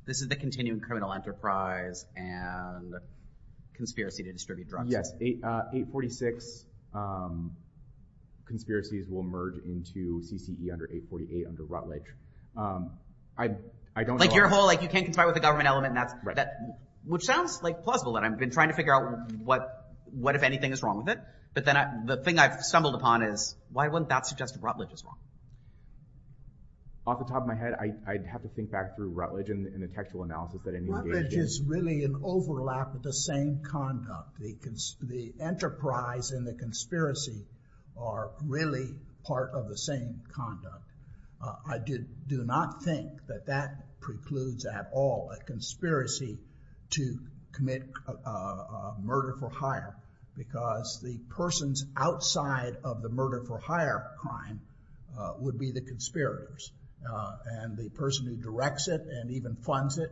This is the continuing criminal enterprise and conspiracy to distribute drugs. Yes, 846 conspiracies will merge into CCE under 848 under Rutledge. I don't know... Like, your whole, like, you can't conspire with the government element, and that's... Which sounds, like, plausible, and I've been trying to figure out what, if anything, is wrong with it. But then the thing I've stumbled upon is why wouldn't that suggest that Rutledge is wrong? Off the top of my head, I'd have to think back through Rutledge and the technical analysis that I need to engage in. Rutledge is really an overlap of the same conduct. The enterprise and the conspiracy are really part of the same conduct. I do not think that that precludes at all a conspiracy to commit murder for hire because the persons outside of the murder for hire crime would be the conspirators. And the person who directs it and even funds it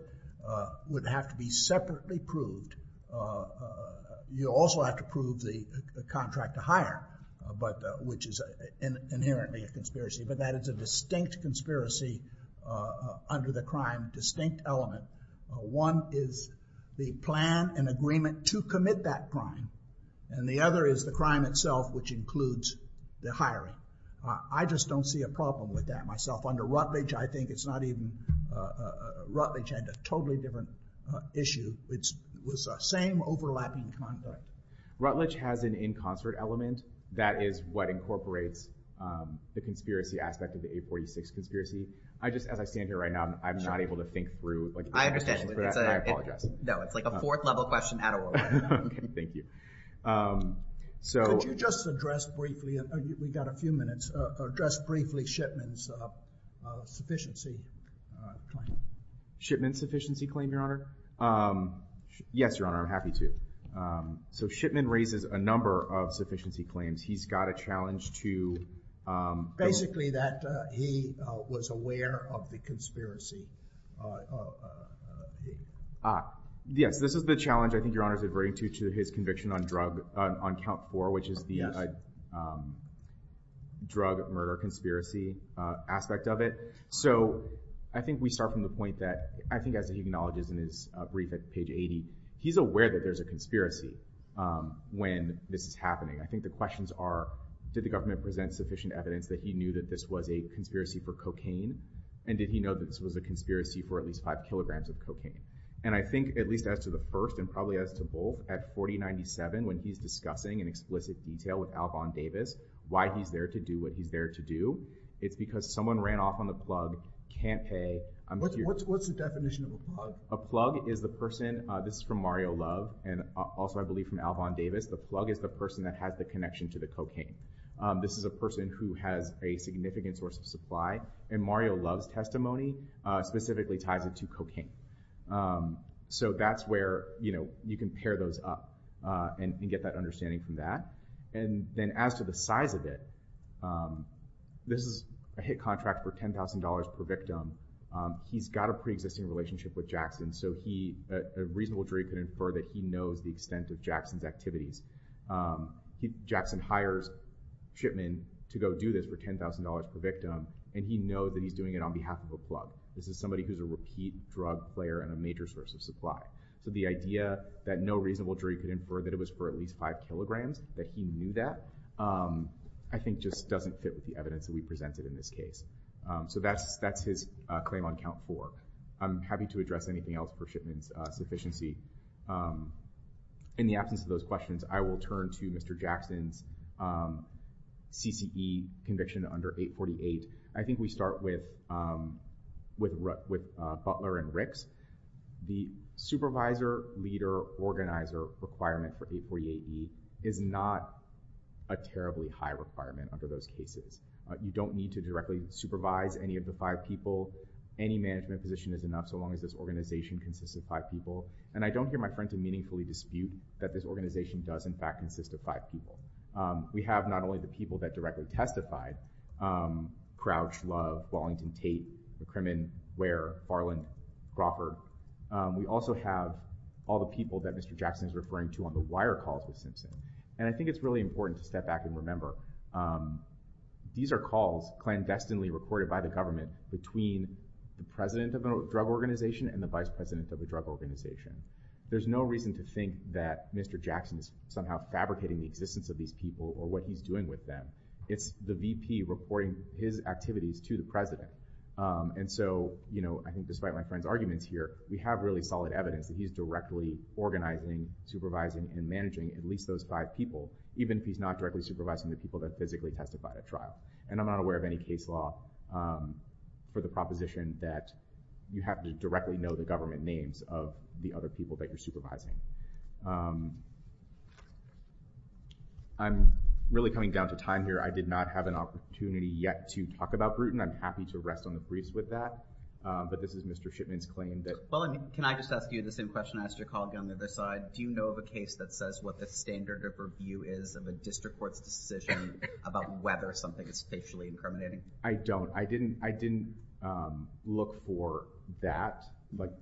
would have to be separately proved. You also have to prove the contract to hire, which is inherently a conspiracy. But that is a distinct conspiracy under the crime, distinct element. One is the plan and agreement to commit that crime, and the other is the crime itself, which includes the hiring. I just don't see a problem with that myself. Under Rutledge, I think it's not even... Rutledge had a totally different issue. It was the same overlapping conduct. Rutledge has an in-concert element. That is what incorporates the conspiracy aspect of the 846 conspiracy. As I stand here right now, I'm not able to think through... I understand. I apologize. No, it's like a fourth-level question out of order. Thank you. Could you just address briefly, we've got a few minutes, address briefly Shipman's sufficiency claim? Shipman's sufficiency claim, Your Honor? Yes, Your Honor, I'm happy to. So Shipman raises a number of sufficiency claims. He's got a challenge to... Basically that he was aware of the conspiracy. Yes, this is the challenge, I think Your Honor is adverting to, to his conviction on count four, which is the drug murder conspiracy aspect of it. So I think we start from the point that, I think as he acknowledges in his brief at page 80, he's aware that there's a conspiracy when this is happening. I think the questions are, did the government present sufficient evidence that he knew that this was a conspiracy for cocaine? And did he know that this was a conspiracy for at least five kilograms of cocaine? And I think at least as to the first and probably as to both, at 4097 when he's discussing in explicit detail with Alvon Davis why he's there to do what he's there to do, it's because someone ran off on the plug, can't pay. What's the definition of a plug? A plug is the person, this is from Mario Love, and also I believe from Alvon Davis, the plug is the person that has the connection to the cocaine. This is a person who has a significant source of supply, and Mario Love's testimony specifically ties it to cocaine. So that's where you can pair those up and get that understanding from that. And then as to the size of it, this is a hit contract for $10,000 per victim. He's got a pre-existing relationship with Jackson, so a reasonable jury could infer that he knows the extent of Jackson's activities. Jackson hires Shipman to go do this for $10,000 per victim, and he knows that he's doing it on behalf of a plug. This is somebody who's a repeat drug player and a major source of supply. So the idea that no reasonable jury could infer that it was for at least five kilograms, that he knew that, I think just doesn't fit with the evidence that we presented in this case. So that's his claim on count four. I'm happy to address anything else for Shipman's sufficiency. In the absence of those questions, I will turn to Mr. Jackson's CCE conviction under 848. I think we start with Butler and Ricks. The supervisor, leader, organizer requirement for 848E is not a terribly high requirement under those cases. You don't need to directly supervise any of the five people. Any management position is enough so long as this organization consists of five people. And I don't hear my friend to meaningfully dispute that this organization does in fact consist of five people. We have not only the people that directly testified, Crouch, Love, Wallington, Tate, McCrimmon, Ware, Farland, Crawford. We also have all the people that Mr. Jackson is referring to on the wire calls with Simpson. And I think it's really important to step back and remember these are calls clandestinely recorded by the government between the president of a drug organization and the vice president of a drug organization. There's no reason to think that Mr. Jackson is somehow fabricating the existence of these people or what he's doing with them. It's the VP reporting his activities to the president. And so I think despite my friend's arguments here, we have really solid evidence that he's directly organizing, supervising, and managing at least those five people even if he's not directly supervising the people that physically testified at trial. And I'm not aware of any case law for the proposition that you have to directly know the government names of the other people that you're supervising. I'm really coming down to time here. I did not have an opportunity yet to talk about Bruton. I'm happy to rest on the briefs with that. But this is Mr. Shipman's claim that... Well, can I just ask you the same question? I asked your colleague on the other side. Do you know of a case that says what the standard of review is of a district court's decision about whether something is facially incriminating? I don't. I didn't look for that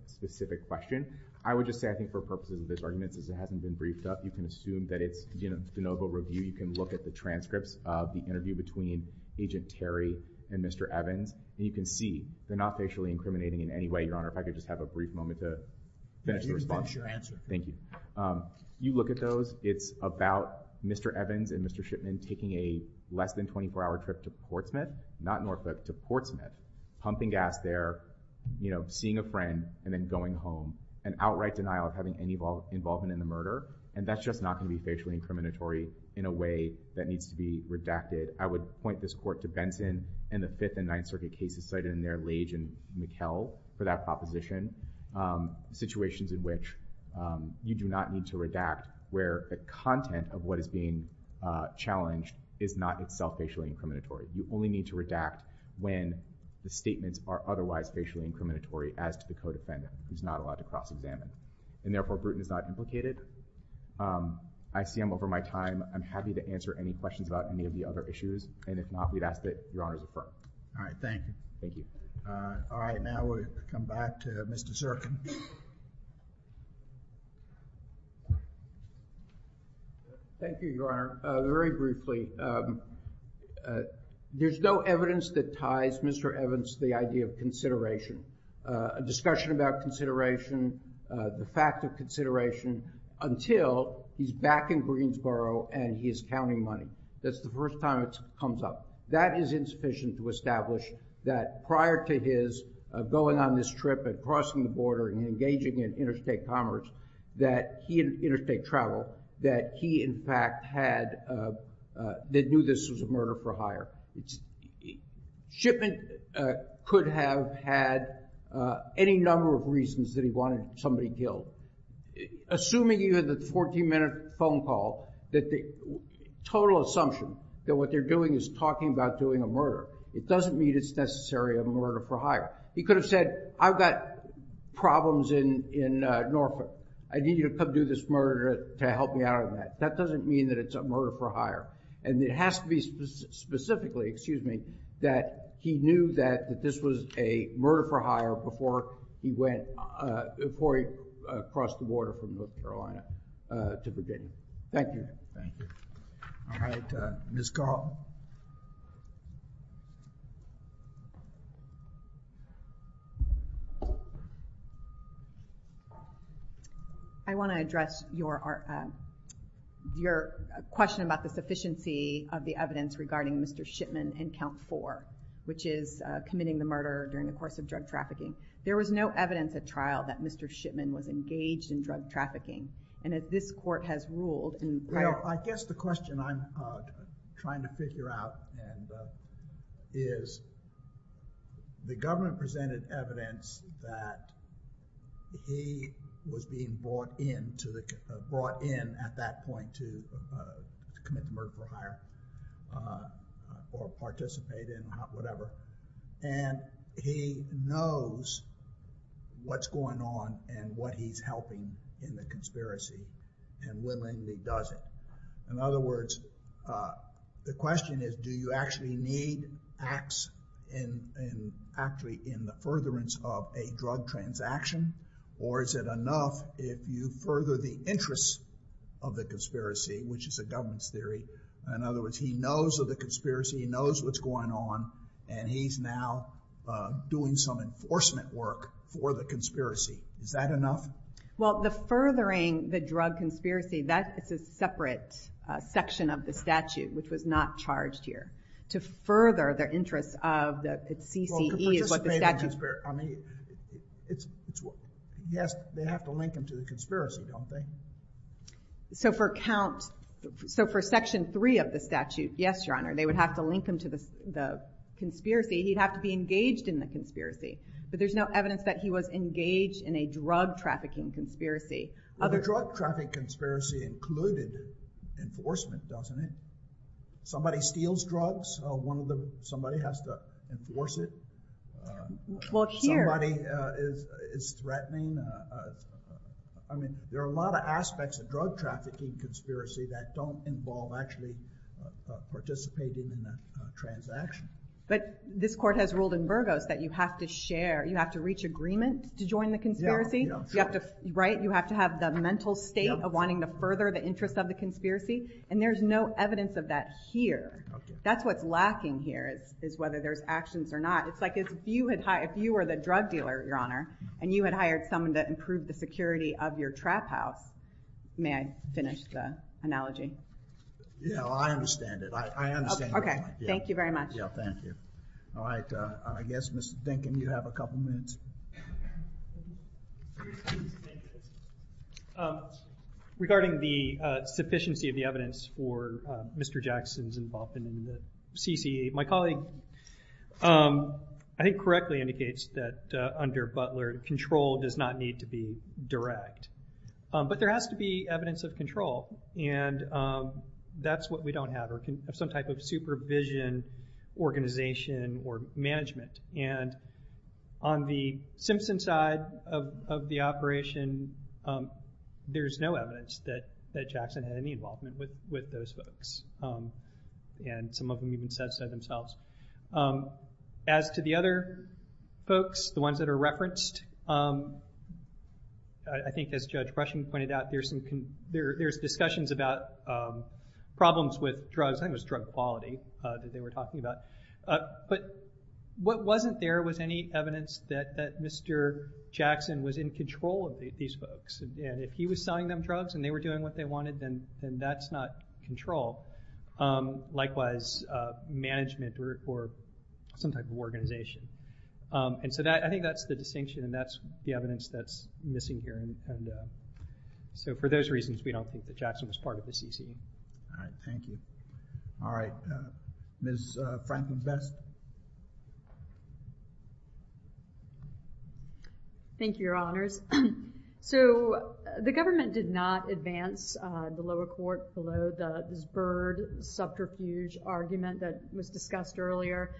specific question. I would just say I think for purposes of this argument since it hasn't been briefed up, you can assume that it's de novo review. You can look at the transcripts of the interview between Agent Terry and Mr. Evans, and you can see they're not facially incriminating in any way, Your Honor. If I could just have a brief moment to finish the response. What is your answer? Thank you. You look at those. It's about Mr. Evans and Mr. Shipman taking a less than 24-hour trip to Portsmouth, not Norfolk, to Portsmouth, pumping gas there, seeing a friend, and then going home. An outright denial of having any involvement in the murder. And that's just not going to be facially incriminatory in a way that needs to be redacted. I would point this court to Benson and the Fifth and Ninth Circuit cases cited in there, Lage and McKell, for that proposition. Situations in which you do not need to redact where the content of what is being challenged is not itself facially incriminatory. You only need to redact when the statements are otherwise facially incriminatory as to the co-defendant, who's not allowed to cross-examine. And therefore, Bruton is not implicated. I see I'm over my time. I'm happy to answer any questions about any of the other issues. And if not, we'd ask that Your Honors refer. All right, thank you. Thank you. All right, now we'll come back to Mr. Zirkin. Thank you, Your Honor. Very briefly, there's no evidence that ties Mr. Evans to the idea of consideration. A discussion about consideration, the fact of consideration, until he's back in Greensboro and he's counting money. That's the first time it comes up. That is insufficient to establish that prior to his going on this trip and crossing the border and engaging in interstate commerce, that he had interstate travel, that he in fact had, that knew this was a murder for hire. Shipment could have had any number of reasons that he wanted somebody killed. Assuming he had the 14-minute phone call, that the total assumption that what they're doing is talking about doing a murder. It doesn't mean it's necessary a murder for hire. He could have said, I've got problems in Norfolk. I need you to come do this murder to help me out on that. That doesn't mean that it's a murder for hire. And it has to be specifically, excuse me, that he knew that this was a murder for hire before he went, before he crossed the border from North Carolina to Virginia. Thank you. Thank you. All right, Ms. Carlton. I want to address your question about the sufficiency of the evidence regarding Mr. Shipman in count four, which is committing the murder during the course of drug trafficking. There was no evidence at trial that Mr. Shipman was engaged in drug trafficking. And as this court has ruled... Well, I guess the question I'm trying to figure out is the government presented evidence that he was being brought in at that point to commit the murder for hire or participate in whatever. And he knows what's going on and what he's helping in the conspiracy and willingly does it. In other words, the question is, do you actually need acts in the furtherance of a drug transaction? Or is it enough if you further the interests of the conspiracy, which is the government's theory. In other words, he knows of the conspiracy, he knows what's going on, and he's now doing some enforcement work for the conspiracy. Is that enough? Well, the furthering the drug conspiracy, that is a separate section of the statute which was not charged here. To further the interests of the CCE... Well, to participate in the conspiracy. I mean, yes, they have to link him to the conspiracy, don't they? So for section three of the statute, yes, Your Honor, they would have to link him to the conspiracy. He'd have to be engaged in the conspiracy. But there's no evidence that he was engaged in a drug trafficking conspiracy. Well, the drug trafficking conspiracy included enforcement, doesn't it? Somebody steals drugs, somebody has to enforce it. Well, here... Somebody is threatening... I mean, there are a lot of aspects of drug trafficking conspiracy that don't involve actually participating in the transaction. But this court has ruled in Burgos that you have to share, you have to reach agreement to join the conspiracy? Yeah, you have to... Right? You have to have the mental state of wanting to further the interests of the conspiracy? And there's no evidence of that here. That's what's lacking here, is whether there's actions or not. It's like if you were the drug dealer, Your Honor, and you had hired someone to improve the security of your trap house... May I finish the analogy? Yeah, I understand it. I understand what you mean. Okay, thank you very much. Yeah, thank you. All right, I guess, Mr. Dinkin, you have a couple minutes. Regarding the sufficiency of the evidence for Mr. Jackson's involvement in the CCA, my colleague, I think, correctly indicates that under Butler, control does not need to be direct. But there has to be evidence of control, and that's what we don't have, or some type of supervision, organization, or management. And on the Simpson side of the operation, there's no evidence that Jackson had any involvement with those folks, and some of them even said so themselves. As to the other folks, the ones that are referenced, I think as Judge Prussian pointed out, there's discussions about problems with drugs. I think it was drug quality that they were talking about. But what wasn't there was any evidence that Mr. Jackson was in control of these folks, and if he was selling them drugs and they were doing what they wanted, then that's not control. Likewise, management or some type of organization. And so I think that's the distinction, and that's the evidence that's missing here. So for those reasons, we don't think that Jackson was part of the CCA. All right, thank you. All right, Ms. Franklin-Vest. Thank you, Your Honors. So the government did not advance the lower court below this Byrd subterfuge argument that was discussed earlier.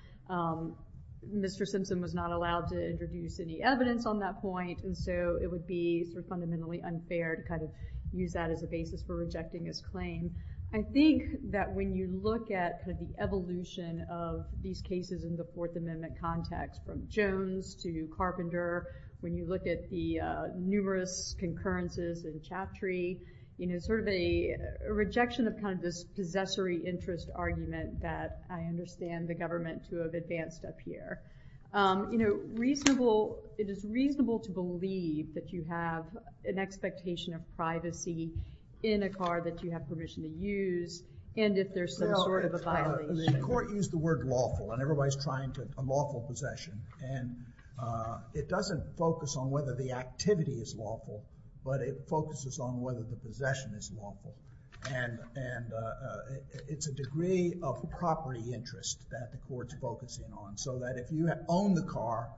Mr. Simpson was not allowed to introduce any evidence on that point, and so it would be fundamentally unfair to use that as a basis for rejecting his claim. I think that when you look at the evolution of these cases in the Fourth Amendment context, from Jones to Carpenter, when you look at the numerous concurrences in Chaptree, it's sort of a rejection of this possessory interest argument that I understand the government to have advanced up here. It is reasonable to believe that you have an expectation of privacy in a car that you have permission to use, and if there's some sort of a violation. The court used the word lawful, and everybody's trying to, a lawful possession, and it doesn't focus on whether the activity is lawful, but it focuses on whether the possession is lawful, and it's a degree of property interest that the court's focusing on, so that if you own the car,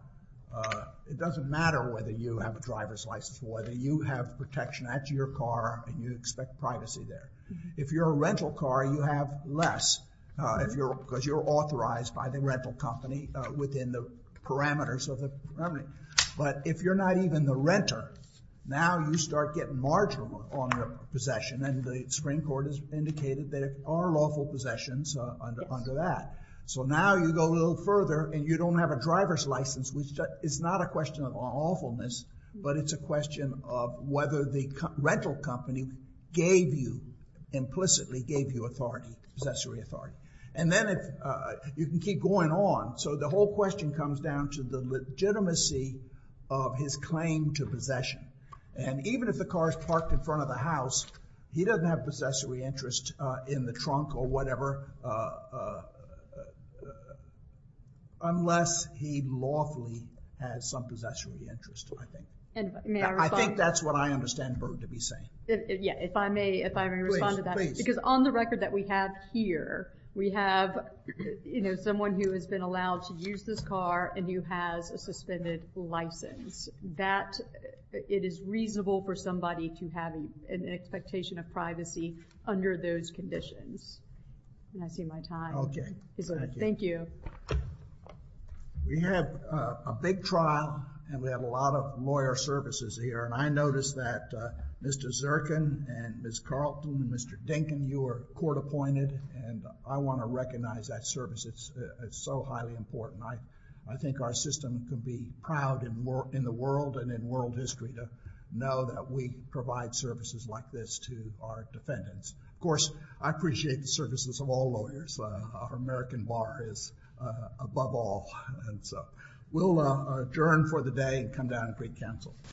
it doesn't matter whether you have a driver's license or whether you have protection at your car, and you expect privacy there. If you're a rental car, you have less, because you're authorized by the rental company within the parameters of the property. But if you're not even the renter, now you start getting marginal on your possession, and the Supreme Court has indicated there are lawful possessions under that. So now you go a little further, and you don't have a driver's license, which is not a question of awfulness, but it's a question of whether the rental company gave you, implicitly gave you authority, possessory authority. And then you can keep going on, so the whole question comes down to the legitimacy of his claim to possession. And even if the car's parked in front of the house, he doesn't have possessory interest in the trunk or whatever, unless he lawfully has some possessory interest, I think. I think that's what I understand Bert to be saying. Yeah, if I may respond to that. Because on the record that we have here, we have someone who has been allowed to use this car and who has a suspended license. That, it is reasonable for somebody to have an expectation of privacy under those conditions. I see my time. Okay. Thank you. We have a big trial, and we have a lot of lawyer services here. And I noticed that Mr. Zirkin and Ms. Carlton and Mr. Dinkin, you were court appointed, and I want to recognize that service. It's so highly important. I think our system can be proud in the world and in world history to know that we provide services like this to our defendants. Of course, I appreciate the services of all lawyers. Our American bar is above all. And so we'll adjourn for the day and come down and greet counsel.